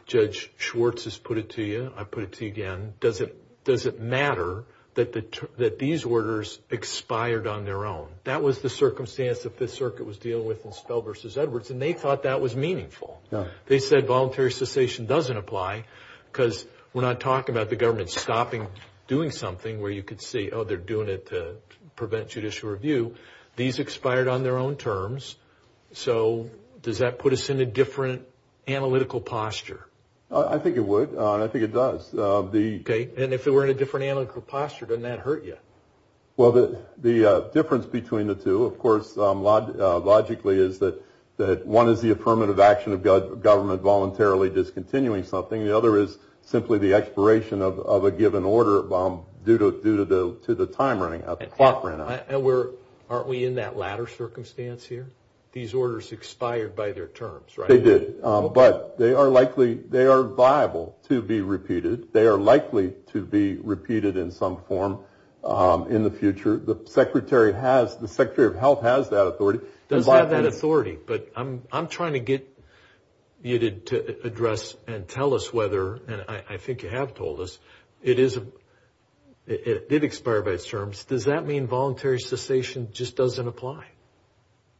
Judge Schwartz has put it to you. I put it to you again. Does it does it matter that the that these orders expired on their own? That was the circumstance the Fifth Circuit was dealing with in Spell versus Edwards and they thought that was meaningful. They said voluntary cessation doesn't apply because we're not talking about the government stopping doing something where you could see oh they're doing it to prevent judicial review. These expired on their own terms. So does that put us in a different analytical posture? I think it would. I think it does. Okay and if it were in a different analytical posture doesn't that hurt you? Well the the difference between the two of course logically is that that one is the affirmative action of government voluntarily discontinuing something. The other is simply the expiration of a given order due to due to the to the time running out, the clock running out. And we're aren't we in that latter circumstance here? These orders expired by their terms right? They did but they are likely they are viable to be repeated. They are likely to be repeated in some form in the future. The Secretary of Health has that authority. Does have that authority but I'm trying to get you to address and tell us whether and I think you have told us it is it did expire by its terms. Does that mean voluntary cessation just doesn't apply?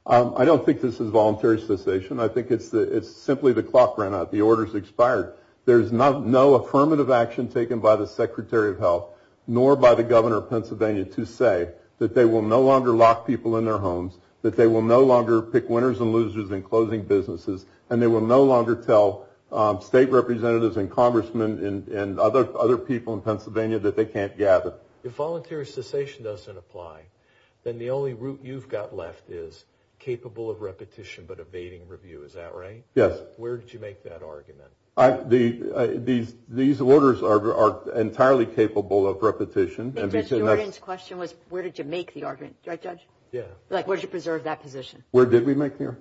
I don't think this is voluntary cessation. I think it's it's simply the clock ran out. The orders expired. There's not no affirmative action taken by the Secretary of Health nor by the governor of Pennsylvania to say that they will no longer lock people in their homes. That they will no longer pick winners and losers in closing businesses and they will no longer tell state representatives and congressmen and other other people in Pennsylvania that they can't gather. If voluntary cessation doesn't apply then the only route you've got left is capable of repetition but evading review. Is that right? Yes. Where did you make that argument? These orders are entirely capable of Yeah. Like where did you preserve that position? Where did we make there?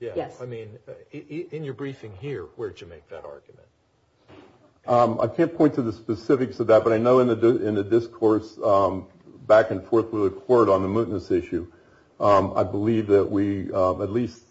Yeah. I mean in your briefing here where did you make that argument? I can't point to the specifics of that but I know in the discourse back and forth with the court on the mootness issue I believe that we at least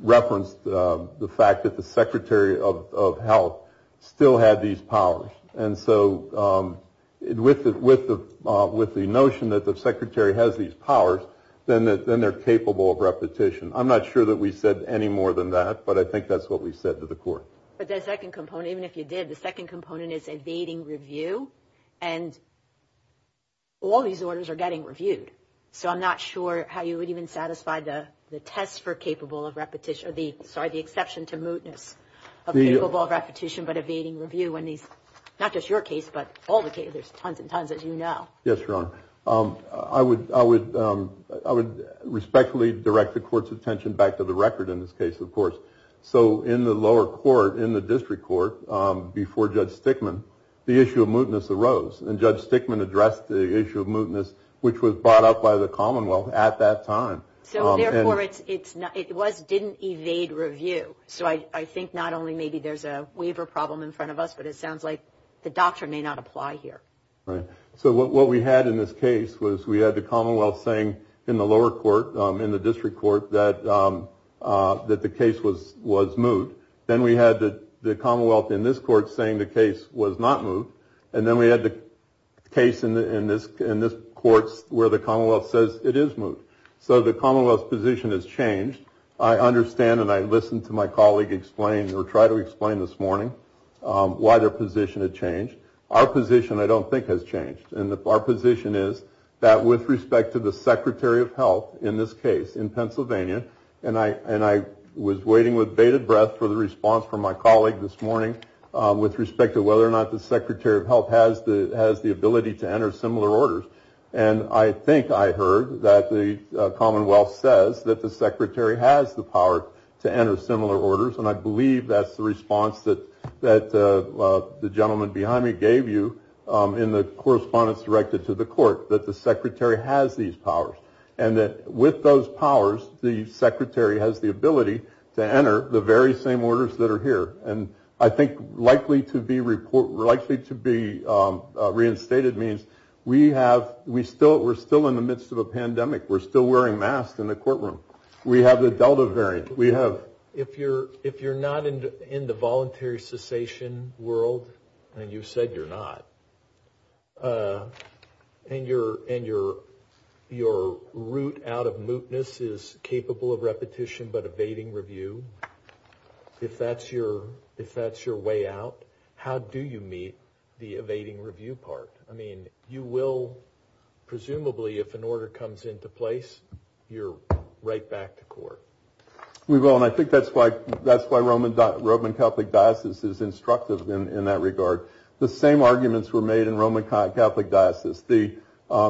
referenced the fact that the Secretary of Health still had these powers and so with the with the with the these powers then they're capable of repetition. I'm not sure that we said any more than that but I think that's what we said to the court. But the second component even if you did the second component is evading review and all these orders are getting reviewed. So I'm not sure how you would even satisfy the the test for capable of repetition of the sorry the exception to mootness of capable of repetition but evading review when these not just your case but all Yes Your Honor. I would I would I would respectfully direct the court's attention back to the record in this case of course. So in the lower court in the district court before Judge Stickman the issue of mootness arose and Judge Stickman addressed the issue of mootness which was brought up by the Commonwealth at that time. So therefore it was didn't evade review. So I think not only maybe there's a waiver problem in front of us but it sounds like the doctor may not apply here. Right. So what we had in this case was we had the Commonwealth saying in the lower court in the district court that that the case was was moot. Then we had the the Commonwealth in this court saying the case was not moot and then we had the case in this in this court where the Commonwealth says it is moot. So the Commonwealth position has changed. I understand and I listened to my colleague explain or try to explain this morning why their position had changed. Our position I don't think has changed and if our position is that with respect to the Secretary of Health in this case in Pennsylvania and I and I was waiting with bated breath for the response from my colleague this morning with respect to whether or not the Secretary of Health has the has the ability to enter similar orders and I think I heard that the Commonwealth says that the Secretary has the power to enter similar orders and I believe that's the response that that the gentleman behind me gave you in the correspondence directed to the court that the secretary has these powers and that with those powers the secretary has the ability to enter the very same orders that are here and I think likely to be report likely to be reinstated means we have we still we're still in the midst of a pandemic we're still wearing masks in the courtroom we have the Delta variant we have if you're if you're not into in the voluntary cessation world and you said you're not and you're and you're your route out of mootness is capable of repetition but evading review if that's your if that's your way out how do you meet the evading review part I mean you will presumably if an order comes into place you're right back to court we will and I think that's why that's why Roman Roman Catholic diocese is instructive in that regard the same arguments were made in Roman Catholic diocese the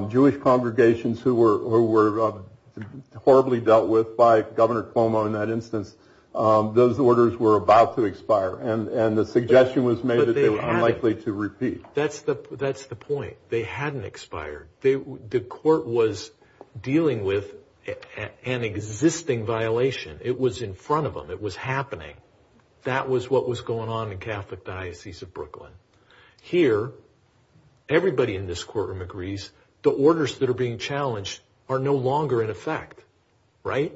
Jewish congregations who were horribly dealt with by Governor Cuomo in that instance those orders were about to expire and and the suggestion was made likely to repeat that's the that's the point they hadn't expired they the court was dealing with an existing violation it was in front of them it was happening that was what was going on in Catholic diocese of Brooklyn here everybody in this courtroom agrees the orders that are being challenged are no longer in effect right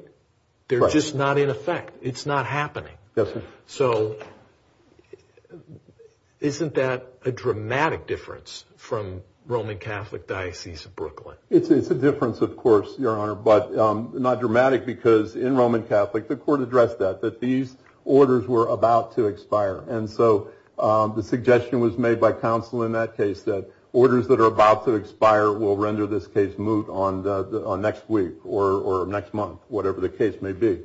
they're just not in effect it's not happening yes so isn't that a dramatic difference from Roman Catholic diocese of Brooklyn it's a difference of course your honor but not dramatic because in Roman Catholic the court addressed that that these orders were about to expire and so the suggestion was made by counsel in that case that orders that are about to expire will next week or next month whatever the case may be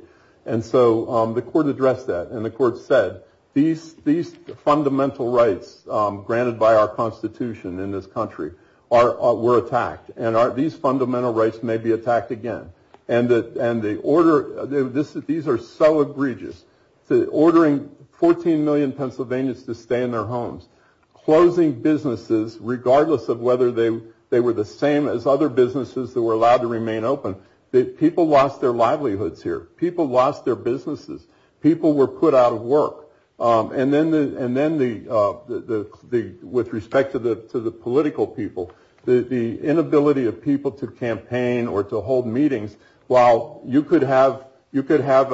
and so the court addressed that and the court said these these fundamental rights granted by our Constitution in this country are were attacked and are these fundamental rights may be attacked again and that and the order this is these are so egregious the ordering 14 million Pennsylvanians to stay in their homes closing businesses regardless of whether they they were the same as other businesses that were allowed to remain open that people lost their livelihoods here people lost their businesses people were put out of work and then and then the the the with respect to the to the political people the inability of people to campaign or to hold meetings while you could have you could have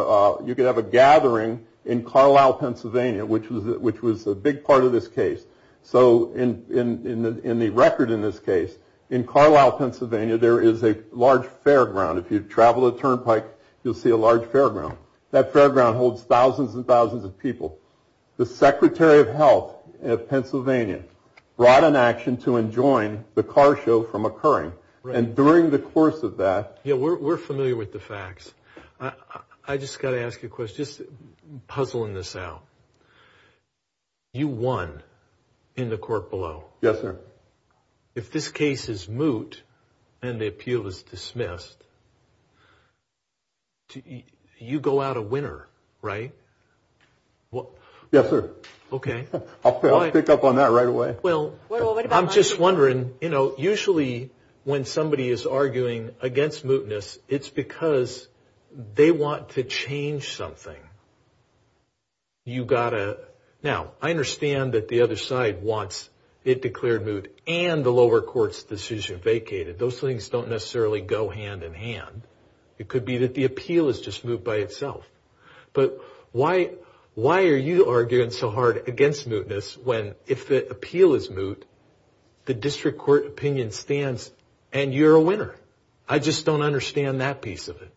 you could have a gathering in Carlisle Pennsylvania which was it which was a big part of this case so in in the in the record in this case in Carlisle Pennsylvania there is a large fairground if you've traveled a turnpike you'll see a large fairground that fairground holds thousands and thousands of people the Secretary of Health of Pennsylvania brought an action to enjoin the car show from occurring and during the course of that yeah we're familiar with the facts I just got to ask you a question puzzling this out you won in the court below yes sir if this case is moot and the appeal is dismissed you go out a winner right well yes sir okay I'll pick up on that right away well I'm just wondering you know usually when somebody is arguing against mootness it's because they want to change something you gotta now I understand that the other side wants it declared moot and the lower courts decision vacated those things don't necessarily go hand in hand it could be that the appeal is just moved by itself but why why are you arguing so hard against mootness when if the appeal is moot the district court opinion stands and you're a winner I just don't understand that piece of it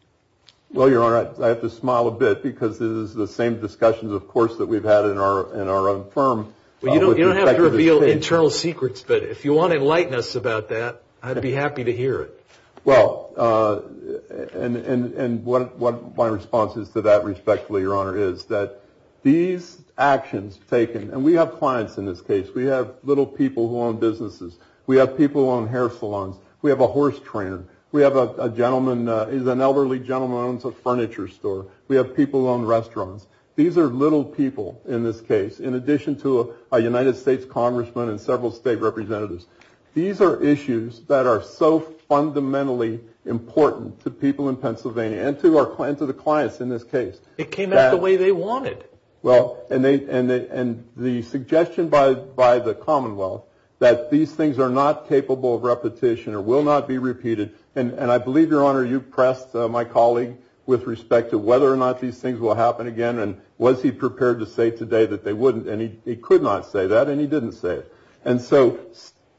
well your honor I have to smile a bit because this is the same discussions of course that we've had in our in our own firm well you don't have to reveal internal secrets but if you want to enlighten us about that I'd be happy to hear it well and and and what my response is to that respectfully your honor is that these actions taken and we have clients in this case we have little people who own businesses we have people on hair salons we have a horse trend we have a gentleman is an elderly gentleman owns a furniture store we have people on restaurants these are little people in this case in addition to a United States congressman and several state representatives these are issues that are so fundamentally important to people in Pennsylvania and to our client to the clients in this case it came out the way they wanted well and they and they and the suggestion by by the Commonwealth that these things are not capable of repetition or will not be repeated and and I believe your honor you've pressed my colleague with respect to whether or again and was he prepared to say today that they wouldn't and he could not say that and he didn't say it and so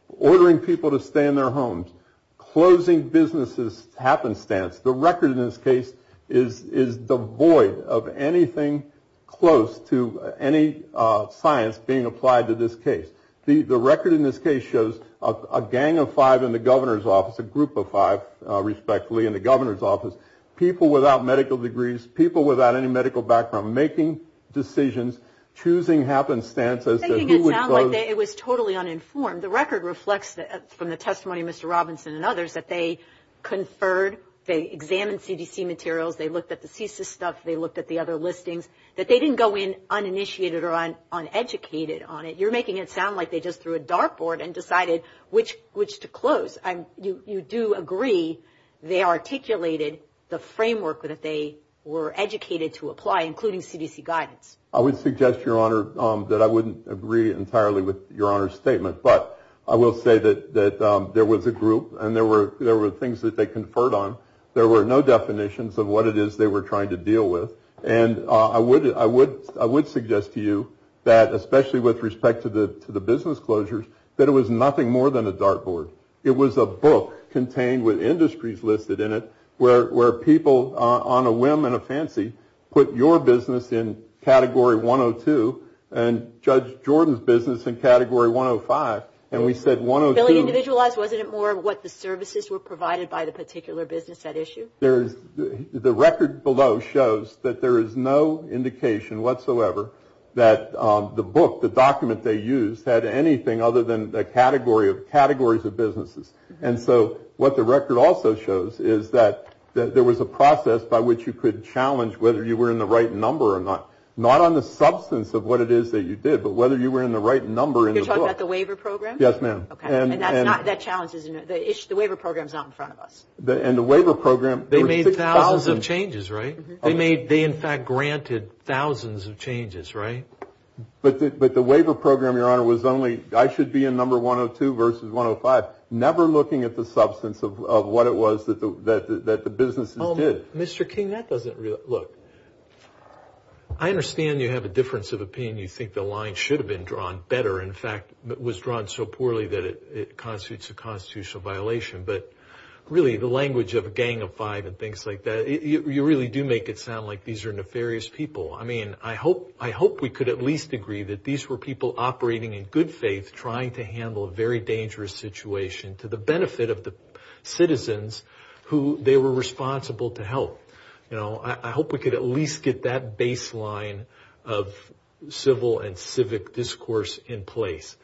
ordering people to stay in their homes closing businesses happenstance the record in this case is is the void of anything close to any science being applied to this case the record in this case shows a gang of five in the governor's office a group of five respectfully in the governor's office people without medical degrees people without any medical background making decisions choosing happenstance it was totally uninformed the record reflects that from the testimony mr. Robinson and others that they conferred they examined CDC materials they looked at the thesis stuff they looked at the other listings that they didn't go in uninitiated or on uneducated on it you're making it sound like they just threw a dartboard and decided which which to close I'm you you do agree they articulated the framework that they were educated to apply including CDC guidance I would suggest your honor that I wouldn't agree entirely with your honor's statement but I will say that that there was a group and there were there were things that they conferred on there were no definitions of what it is they were trying to deal with and I would I would I would suggest to you that especially with respect to the business closures that it was nothing more than a dartboard it was a book contained with industries listed in it where where people on a whim and a fancy put your business in category 102 and judge Jordan's business in category 105 and we said one of the services were provided by the particular business that issue there the record below shows that there is no indication whatsoever that the book the document they used had anything other than the category of categories of businesses and so what the record also shows is that there was a process by which you could challenge whether you were in the right number or not not on the substance of what it is that you did but whether you were in the right number in the waiver program yes ma'am and the waiver program they made thousands of changes right they made they in fact granted thousands of changes right but the waiver program your honor was only I should be in number 102 versus 105 never looking at the substance of what it was that the that the business did mr. King that doesn't look I understand you have a difference of opinion you think the line should have been drawn better in fact it was drawn so poorly that it constitutes a constitutional violation but really the language of a gang of five and things like that you really do make it sound like these are nefarious people I mean I hope I hope we could at least agree that these were people operating in good faith trying to handle a very dangerous situation to the benefit of the citizens who they were responsible to help you know I hope we could at least get that baseline of civil and civic discourse in place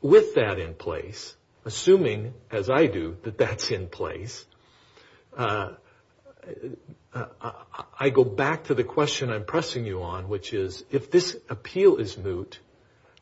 with that in place assuming as I do that that's in place I go back to the question I'm pressing you on which is if this appeal is moot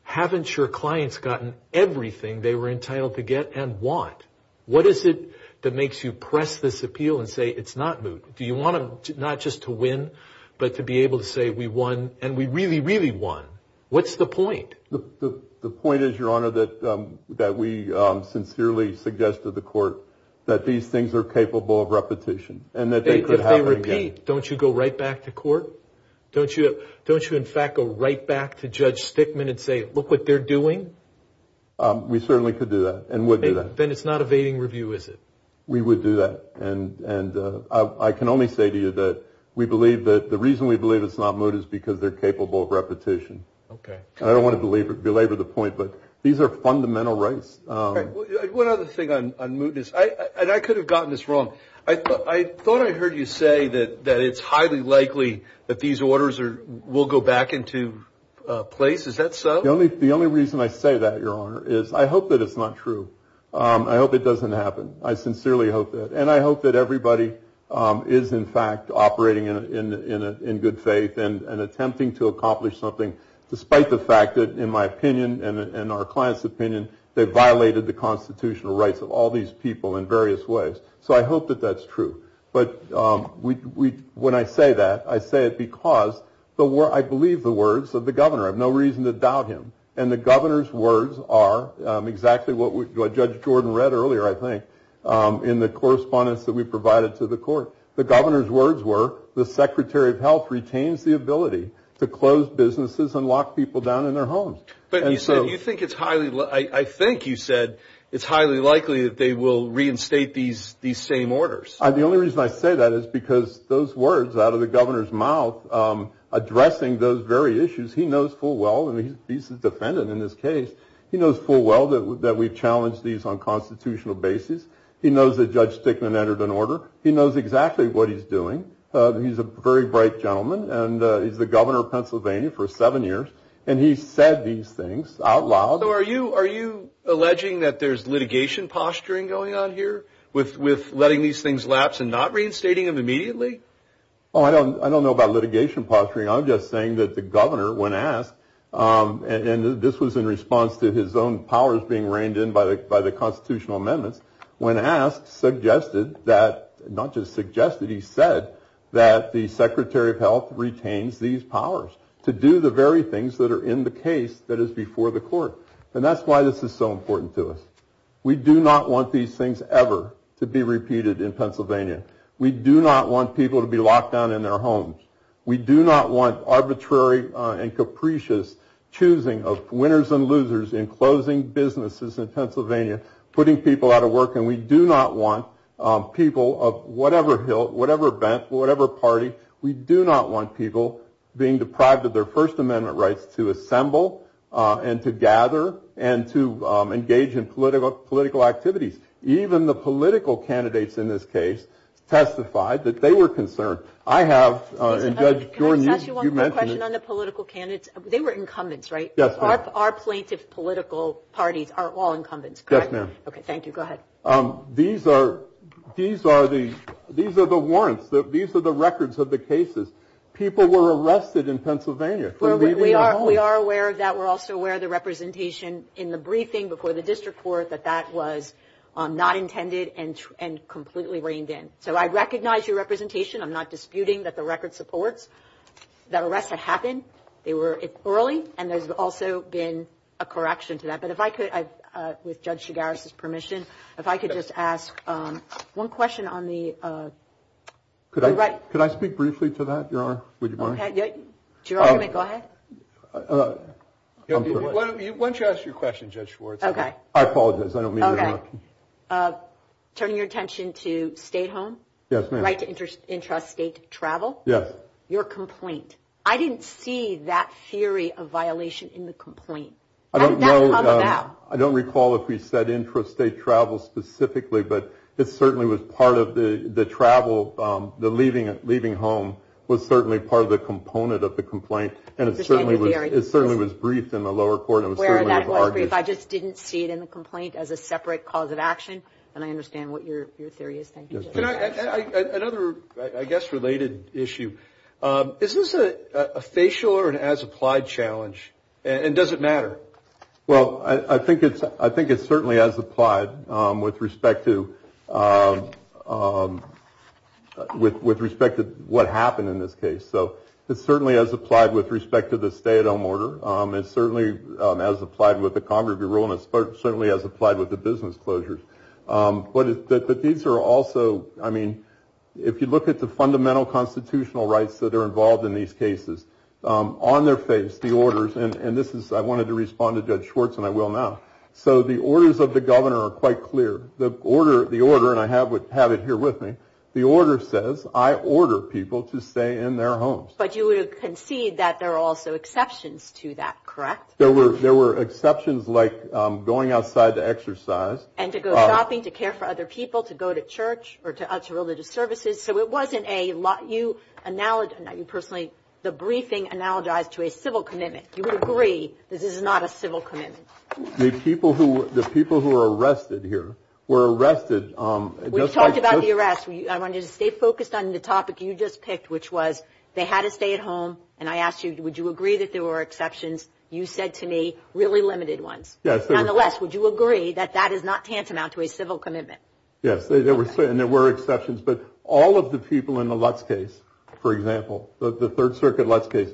haven't your clients gotten everything they were entitled to get and want what is it that makes you press this appeal and say it's not moot do you want to not just to win but to be able to say we won and we really really won what's the point the point is your honor that that we sincerely suggest to the court that these things are capable of repetition and that they repeat don't you go right back to court don't you don't you in fact go right back to judge Stickman and say look what they're doing we certainly could do that and with it then it's not evading review is it we would do that and and I can only say to you that we believe that the reason we believe it's not moot is because they're capable of repetition okay I don't want to believe it belabor the point but these are fundamental rights I could have gotten this wrong I thought I heard you say that that it's highly likely that these orders are will go back into place is that so the only the only reason I say that your honor is I hope that it's not true I hope it doesn't happen I sincerely hope that and I hope that everybody is in fact operating in in good faith and attempting to accomplish something despite the fact that in my opinion and our clients opinion they violated the constitutional rights of all these people in various ways so I hope that that's true but we when I say that I say it because the war I believe the words of the governor have no reason to doubt him and the governor's words are exactly what we judge Jordan read earlier I think in the correspondence that we provided to the court the governor's words were the Secretary of Health retains the ability to close businesses and lock people down in their homes but you think it's highly I think you said it's highly likely that they will reinstate these these same I believe I say that is because those words out of the governor's mouth addressing those very issues he knows full well and he's a defendant in this case he knows full well that that we've challenged these on constitutional basis he knows that judge Stickman entered an order he knows exactly what he's doing he's a very bright gentleman and he's the governor of Pennsylvania for seven years and he said these things out loud are you are you alleging that there's things lapsed and not reinstating of immediately I don't I don't know about litigation posturing I'm just saying that the governor when asked and this was in response to his own powers being reined in by the by the constitutional amendments when asked suggested that not just suggested he said that the Secretary of Health retains these powers to do the very things that are in the case that is before the court and that's why this is so important to us we do not want these things ever to be repeated in Pennsylvania we do not want people to be locked down in their homes we do not want arbitrary and capricious choosing of winners and losers in closing businesses in Pennsylvania putting people out of work and we do not want people of whatever hill whatever bent whatever party we do not want people being deprived of their First Amendment rights to assemble and to gather and to engage in political political activity even the political candidates in this case testified that they were concerned I have political candidates they were incumbents right yes our plaintiff political parties aren't wall incumbents yes ma'am okay thank you go ahead these are these are these these are the warrants that these are the records of the cases people were arrested in Pennsylvania we are aware that we're also where the representation in the briefing before the district court that that was not intended and and completely reined in so I recognize your representation I'm not disputing that the record supports that arrests have happened they were early and there's also been a correction to that but if I could with judge Chigaris's permission if I could just ask one question on the could I write could I speak briefly to that you're on would you want to go ahead why don't you ask your question judge for okay I apologize I don't mean okay turn your attention to stay home yes right interest intrastate travel yes your complaint I didn't see that theory of violation in the complaint I don't know I don't recall if we said intrastate travel specifically but it certainly was part of the the travel the leaving it leaving home was certainly part of the component of the complaint and it certainly was it certainly was briefed in the lower court I just didn't see it in the complaint as a separate cause of action and I understand what you're serious I guess related issue is this a facial or an as-applied challenge and does it matter well I think it's I think it's certainly as applied with respect to with respect to what happened in this case so it certainly has applied with respect to the stay-at-home order it certainly has applied with the congregate ruleness but certainly as applied with the business closures what is that the deeds are also I mean if you look at the fundamental constitutional rights that are involved in these cases on their face the orders and this is I wanted to respond to judge Schwartz and I will now so the orders of the governor are quite clear the order the order and have would have it here with me the order says I order people to stay in their homes but you would concede that there are also exceptions to that correct there were there were exceptions like going outside to exercise and to go shopping to care for other people to go to church or to us religious services so it wasn't a lot you analogy that you personally the briefing analogized to a civil commitment you would agree this is not a civil commitment the people who the people who are arrested here were arrested on the arrest when you stay focused on the topic you just picked which was they had a stay-at-home and I asked you would you agree that there were exceptions you said to me really limited ones yes the less would you agree that that is not tantamount to a civil commitment yes they were saying there were exceptions but all of the people in the left case for example the Third Circuit left case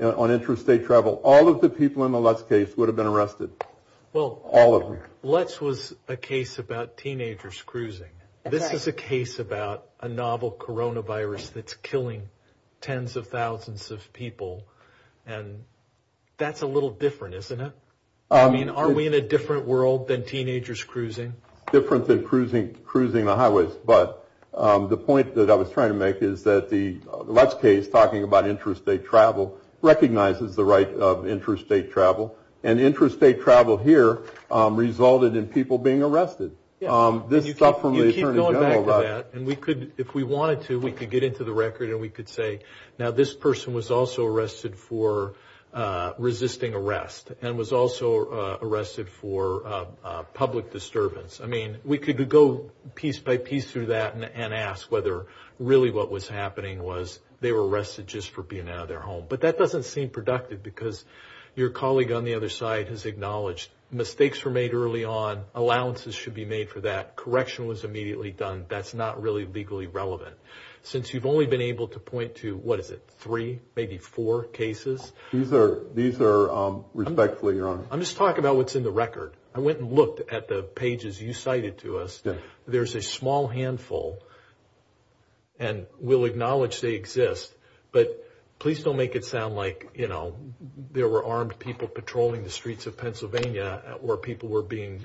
on interstate travel all of the people in the left case would have been arrested well all let's was a case about teenagers cruising this is a case about a novel coronavirus that's killing tens of thousands of people and that's a little different isn't it I mean are we in a different world than teenagers cruising different than cruising cruising on highways but the point that I was trying to make is that the left case talking about interstate travel recognizes the interstate travel and interstate travel here resulted in people being arrested this stuff and we could if we wanted to we could get into the record and we could say now this person was also arrested for resisting arrest and was also arrested for public disturbance I mean we could go piece by piece through that and ask whether really what was happening was they were arrested just for being out of their home but that doesn't seem productive because your colleague on the other side has acknowledged mistakes were made early on allowances should be made for that correction was immediately done that's not really legally relevant since you've only been able to point to what is it three maybe four cases these are these are respectfully your honor I'm just talking about what's in the record I went and looked at the pages you cited to us there's a small handful and we'll acknowledge they exist but please don't make it sound like you know there were armed people patrolling the streets of Pennsylvania where people were being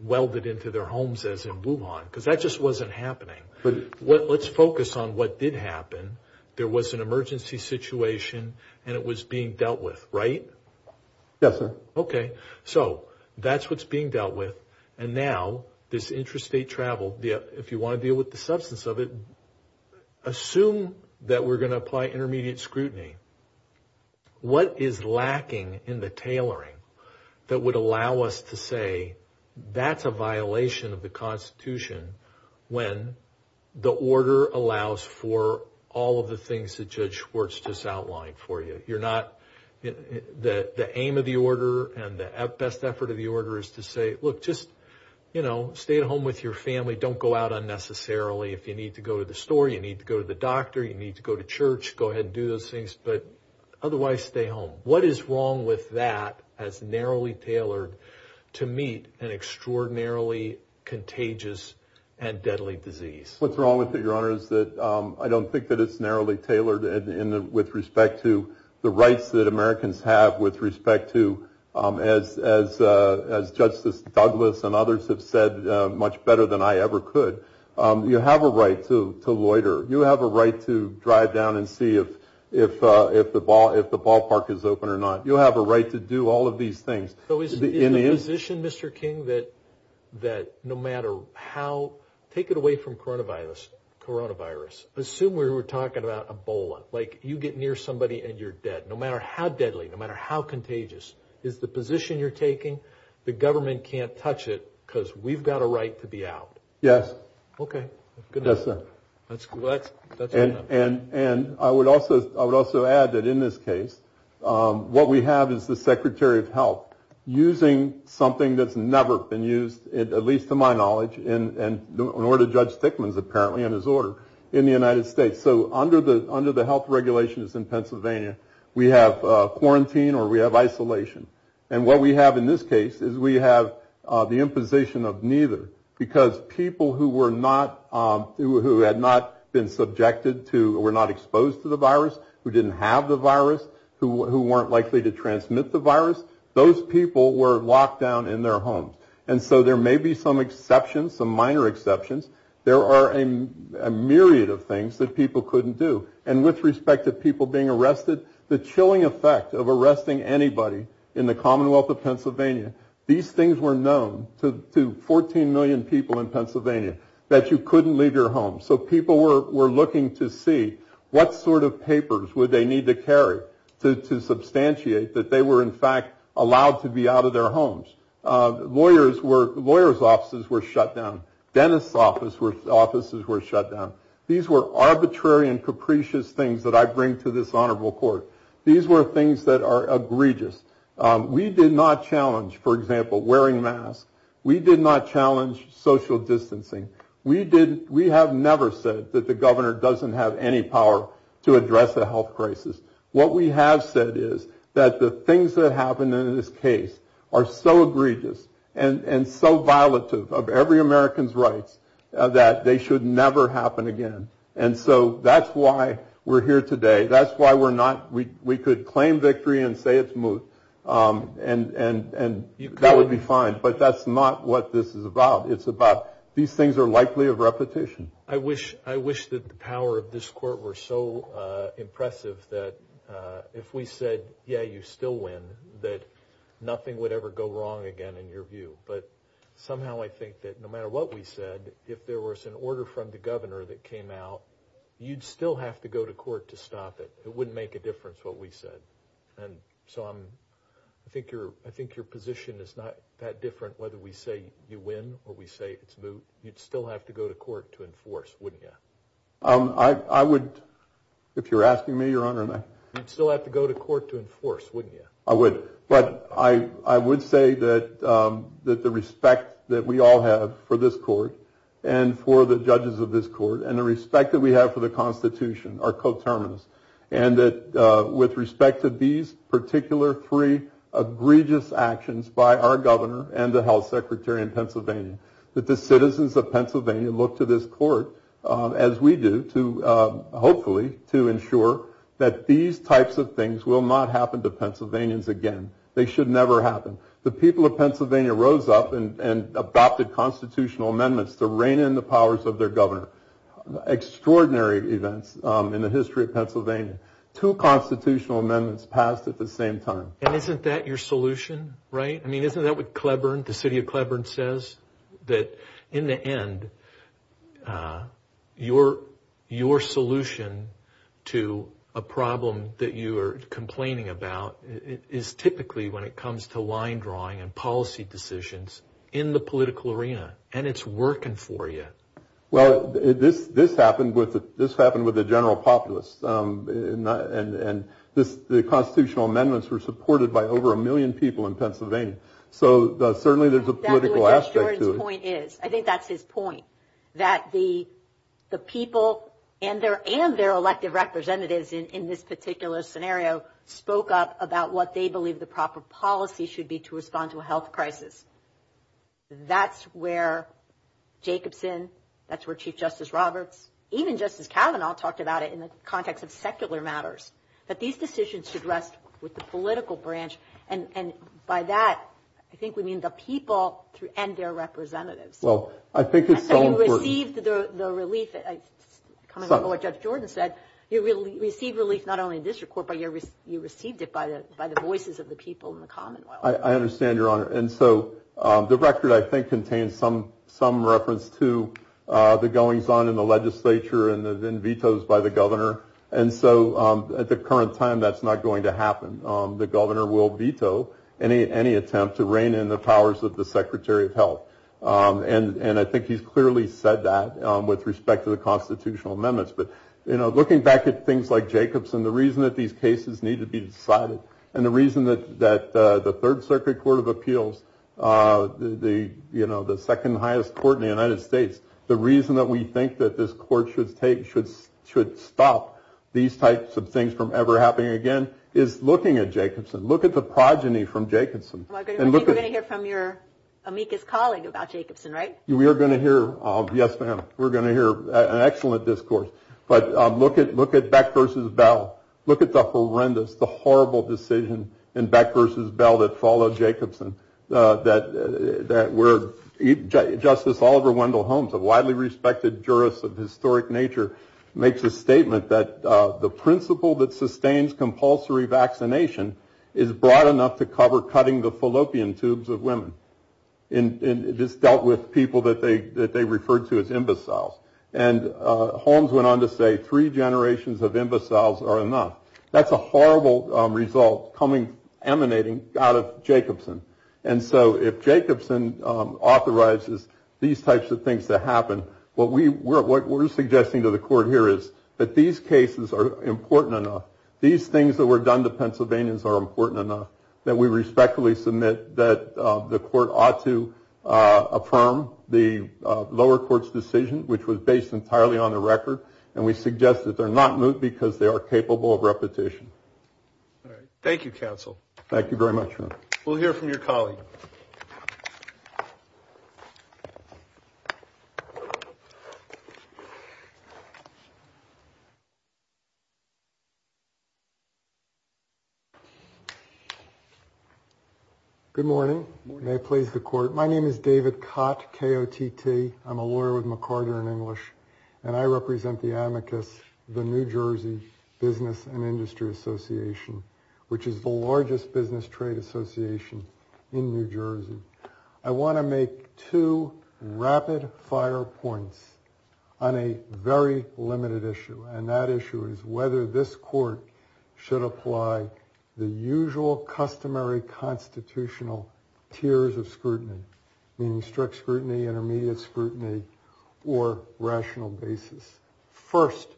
welded into their homes as a move on because that just wasn't happening but what let's focus on what did happen there was an emergency situation and it was being dealt with right yes sir okay so that's what's being dealt with and now this interest they traveled yeah if you want to deal with the substance of it assume that we're going to apply intermediate scrutiny what is lacking in the tailoring that would allow us to say that's a violation of the Constitution when the order allows for all of the things that judge Schwartz just outlined for you you're not that the aim of the order and the best effort of the order is to say look just you know stay at home with your family don't go out unnecessarily if you need to go to the store you need to go to the doctor you need to go to church go ahead and do those things but otherwise stay home what is wrong with that as narrowly tailored to meet an extraordinarily contagious and deadly disease what's wrong with it your honor is that I don't think that it's narrowly to the rights that Americans have with respect to as Justice Douglass and others have said much better than I ever could you have a right to to loiter you have a right to drive down and see if if if the ball if the ballpark is open or not you'll have a right to do all of these things so is the position mr. King that that no matter how take it away from coronavirus coronavirus assume we were talking about Ebola like you get near somebody and you're dead no matter how deadly no matter how contagious is the position you're taking the government can't touch it because we've got a right to be out yes okay good that's good and and and I would also I would also add that in this case what we have is the Secretary of Health using something that's never been used at least to my knowledge in and in order to judge Stickman's apparently in his order in the United States so under the under the health regulations in Pennsylvania we have quarantine or we have isolation and what we have in this case is we have the imposition of neither because people who were not who had not been subjected to were not exposed to the virus who didn't have the virus who weren't likely to transmit the virus those people were locked down in their homes and so there may be some exceptions some minor exceptions there are a myriad of things that people couldn't do and with respect to people being arrested the chilling effect of arresting anybody in the Commonwealth of Pennsylvania these things were known to 14 million people in Pennsylvania that you couldn't leave your home so people were looking to see what sort of papers would they need to carry to substantiate that they were in fact allowed to be out of their homes lawyers were lawyers offices were shut down dentists office were offices were shut down these were arbitrary and capricious things that I bring to this honorable court these were things that are egregious we did not challenge for example wearing masks we did not challenge social distancing we did we have never said that the governor doesn't have any power to address the health crisis what we have said is that the things that happened in this case are so egregious and and so violative of every American's right that they should never happen again and so that's why we're here today that's why we're not we we could claim victory and say it's smooth and and and that would be fine but that's not what this is about it's about these things are likely of repetition I wish I wish that the power of this court were so impressive that if we said yeah you still win that nothing would ever go wrong again in your view but somehow I think that no matter what we said if there was an order from the governor that came out you'd still have to go to court to stop it it wouldn't make a difference what we said and so I'm I think you're I think your position is not that different whether we say you win or we say it's blue you'd still have to go to court to enforce wouldn't you um I would if you're asking me your honor and I still have to go to court to I would say that that the respect that we all have for this court and for the judges of this court and the respect that we have for the Constitution are coterminous and that with respect to these particular three egregious actions by our governor and the health secretary in Pennsylvania that the citizens of Pennsylvania look to this court as we do to hopefully to ensure that these types of things will not happen to Pennsylvanians again they should never happen the people of Pennsylvania rose up and and adopted constitutional amendments to rein in the powers of their governor extraordinary events in the history of Pennsylvania two constitutional amendments passed at the same time and isn't that your solution right I mean isn't that what Cleburne the city of Cleburne says that in the end your your solution to a problem that you are complaining about is typically when it comes to line drawing and policy decisions in the political arena and it's working for you well this happened with this happened with the general populace and and the constitutional amendments were supported by over a million people in Pennsylvania so certainly there's a point is I think that's his point that the the people and their and their elected representatives in this particular scenario spoke up about what they believe the proper policy should be to respond to a health crisis that's where Jacobson that's where Chief Justice Robert even Justice Kavanaugh talked about it in the context of secular matters that these decisions should rest with the political branch and and by that I think we mean the record I think contains some some reference to the goings-on in the legislature and then vetoes by the governor and so at the current time that's not going to happen the governor will veto any any attempt to rein in the powers of the Secretary of Health and and I think he's clearly said that with respect to the constitutional amendments but you know looking back at things like Jacobson the reason that these cases need to be decided and the reason that that the Third Circuit Court of Appeals the you know the second highest court in the United States the reason that we think that this court should take should should stop these types of things from ever happening again is looking at Jacobson look at the progeny from Jacobson from your amicus right we are going to hear yes we're going to hear an excellent discourse but look at look at Beck versus Bell look at the horrendous the horrible decision in Beck versus Bell that followed Jacobson that that word justice Oliver Wendell Holmes a widely respected jurist of historic nature makes a statement that the principle that sustains compulsory vaccination is broad enough to cover cutting the fallopian tubes of women and it just dealt with people that they that they referred to as imbecile and Holmes went on to say three generations of imbeciles are enough that's a horrible result coming emanating out of Jacobson and so if Jacobson authorizes these types of things that happen what we were what we're suggesting to the court here is that these cases are important enough these things that were done to Pennsylvanians are important enough that we respectfully submit that the court ought to affirm the lower courts decision which was based entirely on a record and we suggest that they're not moved because they are capable of repetition thank you counsel thank you very much we'll hear from your colleague good morning may I please the court my name is David Kott K-O-T-T I'm a lawyer with McCarter in English and I represent the amicus the New Jersey's Business and Industry Association which is the largest business trade association in New Jersey I want to make two rapid-fire points on a very limited issue and that issue is whether this court should apply the usual customary constitutional tiers of scrutiny in strict scrutiny and immediate scrutiny or rational basis first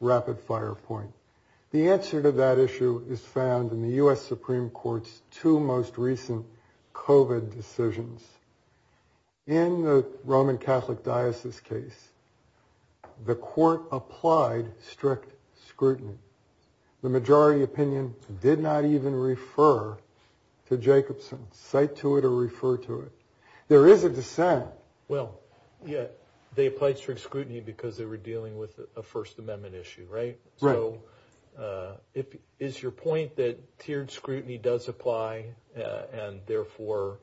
rapid fire point the answer to that issue is found in the US Supreme Court's two most recent COVID decisions in the Roman Catholic Diocese case the court applied strict scrutiny the majority opinion did not even refer to Jacobson cite to it or refer to it there is a dissent well yeah they fight strict scrutiny because they were dealing with a First Amendment issue right well it is your point that tiered scrutiny does apply and therefore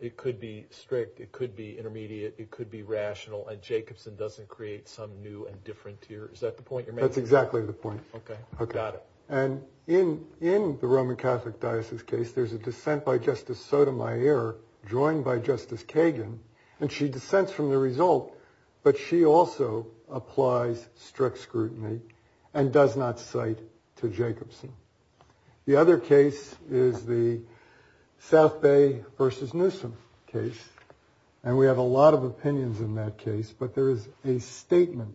it could be strict it could be intermediate it could be rational and Jacobson doesn't create some new and different here is that the point that's exactly the point okay okay got it and in in the Roman Catholic Diocese case there's a dissent by Justice Sotomayor joined by Justice Kagan and she dissents from the result but she also applies strict scrutiny and does not cite to Jacobson the other case is the South Bay versus Newsom case and we have a lot of opinions in that case but there is a statement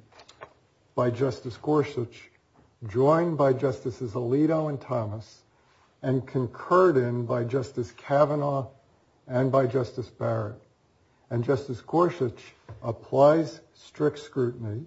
by Justice Gorsuch joined by Justices Alito and Thomas and concurred in by Justice Kavanaugh and by Justice Barrett and Justice Gorsuch applies strict scrutiny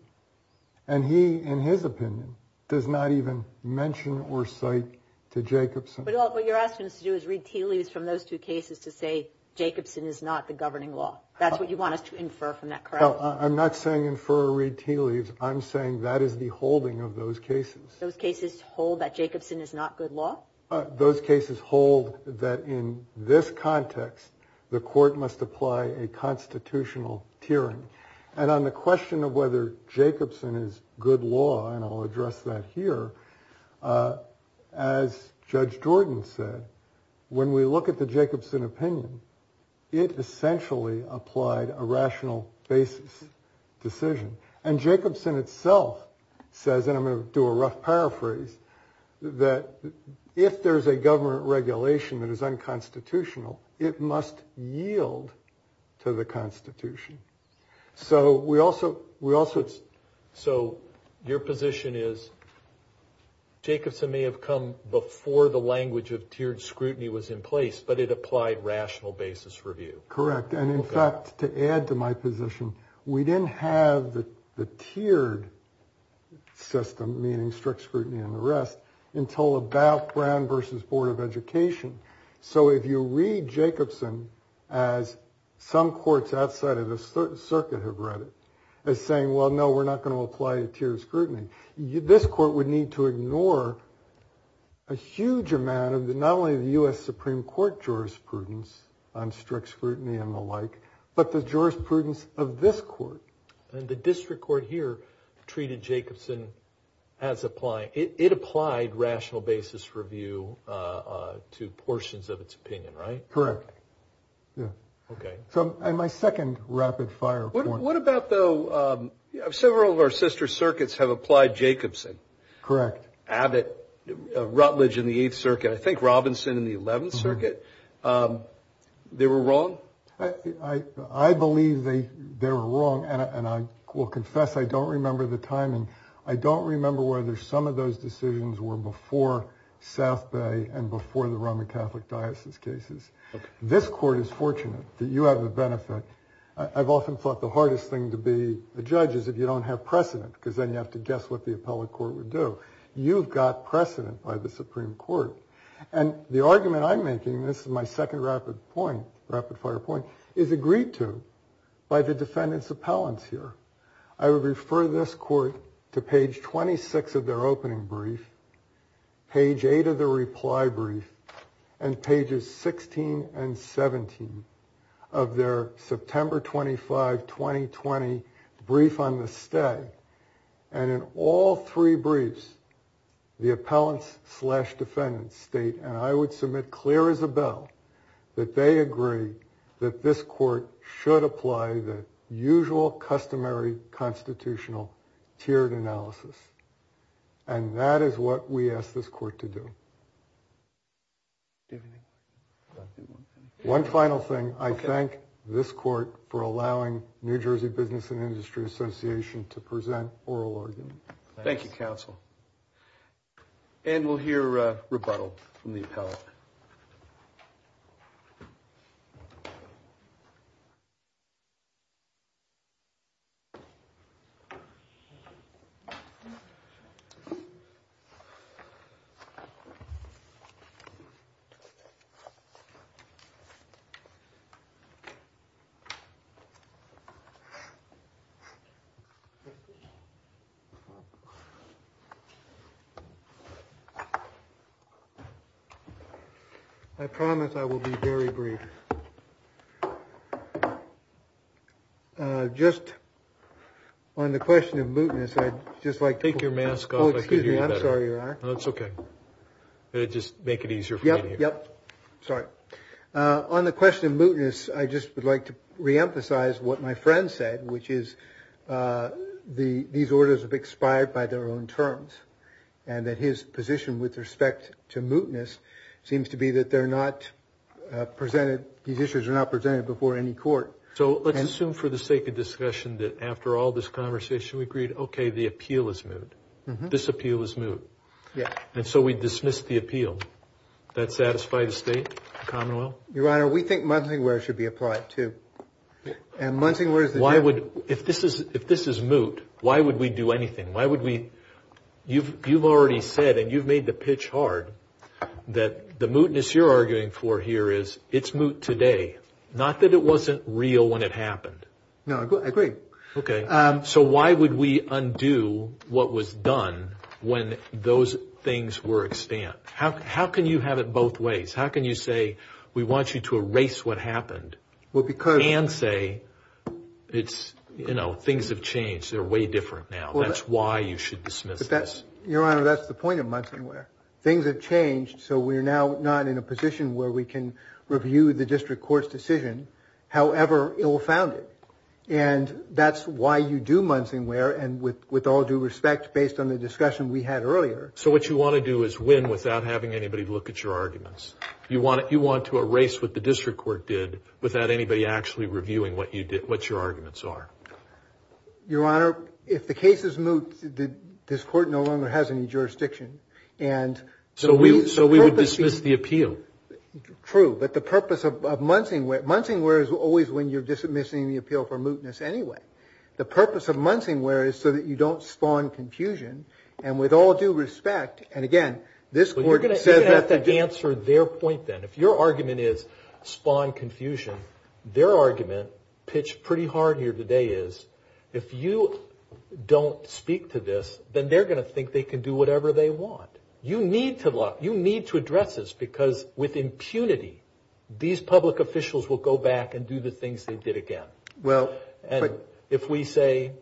and he in his opinion does not even mention or cite to Jacobson what you're asking us to do is read tea leaves from those two cases to say Jacobson is not the governing law that's what you want to infer from that crowd I'm not saying infer or read tea leaves I'm saying that is the holding of those cases those cases hold that Jacobson is not good law those cases hold that in this context the court must apply a constitutional tiering and on the question of whether Jacobson is good law and I'll address that here as Judge Jordan said when we look at the Jacobson opinion it essentially applied a rational basis decision and Jacobson itself says I'm going to do a rough paraphrase that if there's a government regulation that is unconstitutional it must yield to the Constitution so we also we also so your position is Jacobson may have come before the language of tiered scrutiny was in place but it applied rational basis for you correct and in fact to add to my position we didn't have the tiered system meaning strict scrutiny and the rest until about Brown versus Board of Education so if you read Jacobson as some courts outside of this certain circuit have read it they're saying well no we're not going to apply a tiered scrutiny you this court would need to Supreme Court jurisprudence on strict scrutiny and the like but the jurisprudence of this court and the district court here treated Jacobson as applying it applied rational basis for view to portions of its opinion right correct okay so my second rapid-fire what about though several of our sister circuits have applied Jacobson correct Abbott Rutledge in the 8th circuit I circuit they were wrong I I believe they they were wrong and I will confess I don't remember the timing I don't remember whether some of those decisions were before South Bay and before the Roman Catholic Diocese cases this court is fortunate that you have a benefit I've often thought the hardest thing to be a judge is if you don't have precedent because then you have to guess what the appellate court would do you've got precedent by the Supreme Court and the argument I'm making this is my second rapid point rapid-fire point is agreed to by the defendants appellants here I would refer this court to page 26 of their opening brief page 8 of the reply brief and pages 16 and 17 of their September 25 2020 brief on the stay and in all three briefs the appellants defendant state and I would submit clear as a bell that they agree that this court should apply the usual customary constitutional tiered analysis and that is what we ask this court to do one final thing I thank this court for allowing New Jersey Business and Industry Association to present oral thank you counsel and we'll hear rebuttal from the appellate I promise I will be very brief just on the question of mootness I just like take your mask oh excuse me I'm sorry you're on that's okay they just make it easier yep yep sorry on the question mootness I just would like to reemphasize what my friend said which is the these orders have expired by their own terms and that his position with respect to mootness seems to be that they're not presented these issues are not presented before any court so let's assume for the sake of discussion that after all this conversation we agreed okay the appeal is moot this appeal is moot yeah and so we dismissed the appeal that satisfied the state commonwealth your honor we think monthly where it should be applied to and one thing where's the why would if this is if this is moot why would we do anything why would we you've you've already said and you've made the pitch hard that the mootness you're arguing for here is it's moot today not that it wasn't real when it happened no I agree okay so why would we undo what was done when those things were expand how can you have it both ways how can you say we want you to erase what happened well because and say it's you know things have changed they're way different now that's why you should dismiss that's your honor that's the point of months and where things have changed so we're now not in a position where we can review the district courts decision however it will found it and that's why you do months in where and with with all due respect based on the discussion we had earlier so what you want to do is win without having anybody look at your arguments you want it you want to erase what the district court did without anybody actually reviewing what you did what your arguments are your honor if the case is moot this court no longer has any jurisdiction and so we so we would dismiss the appeal true but the purpose of months in wet months in where is always when you're dismissing the appeal for mootness anyway the purpose of respect and again this answer their point then if your argument is spawn confusion their argument pitch pretty hard here today is if you don't speak to this then they're going to think they can do whatever they want you need to lock you need to address this because with impunity these public officials will go back and do the things they did again well and if we say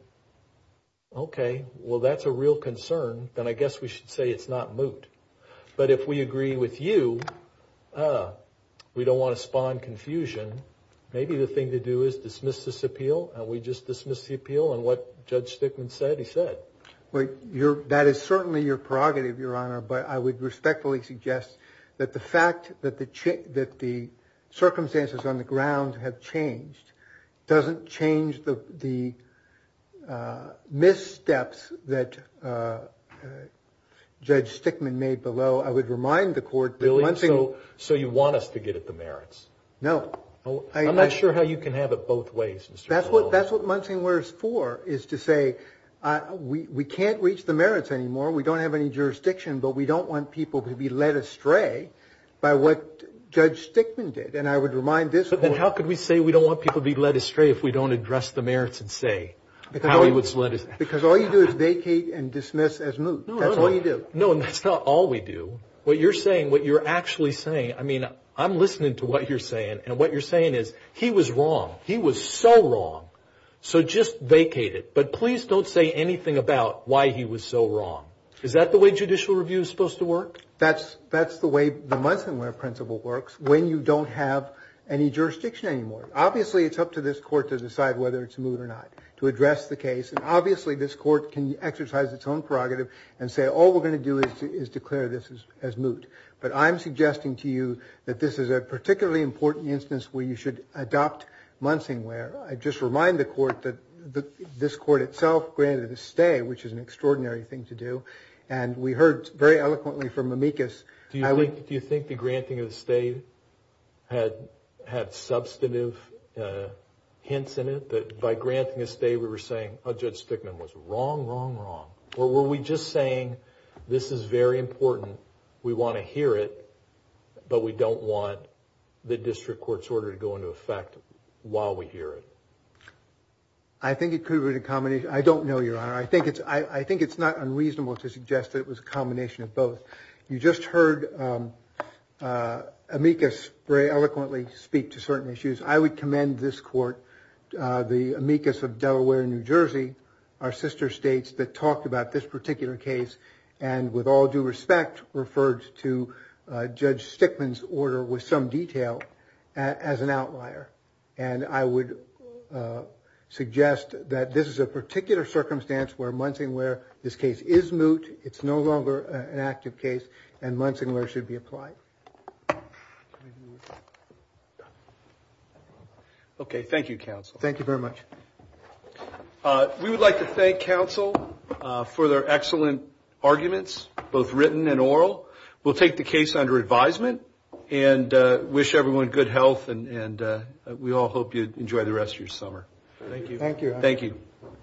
okay well that's a real concern then I guess we should say it's not moot but if we agree with you we don't want to spawn confusion maybe the thing to do is dismiss this appeal and we just dismissed the appeal and what judge stickman said he said wait you're that is certainly your prerogative your honor but I would respectfully suggest that the fact that the chick that the circumstances on the judge stickman made below I would remind the court really so so you want us to get at the merits no oh I'm not sure how you can have it both ways that's what that's what monting where is for is to say we can't reach the merits anymore we don't have any jurisdiction but we don't want people to be led astray by what judge stickman did and I would remind this but then how could we say we don't want people be led astray if we don't address the merits and say because I vacate and dismiss as moot that's all you do no and that's not all we do what you're saying what you're actually saying I mean I'm listening to what you're saying and what you're saying is he was wrong he was so wrong so just vacated but please don't say anything about why he was so wrong is that the way judicial review is supposed to work that's that's the way the month and where principal works when you don't have any jurisdiction anymore obviously it's up to this court to decide whether it's moot or not to address the case and obviously this court can exercise its own prerogative and say all we're going to do is declare this is as moot but I'm suggesting to you that this is a particularly important instance where you should adopt monting where I just remind the court that this court itself granted a stay which is an extraordinary thing to do and we heard very eloquently from amicus do you think the granting of hints in it but by granting this day we were saying a judge stickman was wrong wrong wrong or were we just saying this is very important we want to hear it but we don't want the district court's order to go into effect while we hear it I think it could be a combination I don't know you are I think it's I think it's not unreasonable to suggest that it was a combination of both you just heard amicus very eloquently speak to certain issues I would commend this court the amicus of Delaware New Jersey our sister states that talked about this particular case and with all due respect referred to judge stickman's order with some detail as an outlier and I would suggest that this is a particular circumstance where monting where this case is moot it's no longer an active case and Lansing where should be applied okay thank you counsel thank you very much we would like to thank counsel for their excellent arguments both written and oral we'll take the case under advisement and wish everyone good health and we all hope you enjoy the rest of your summer thank you thank you thank you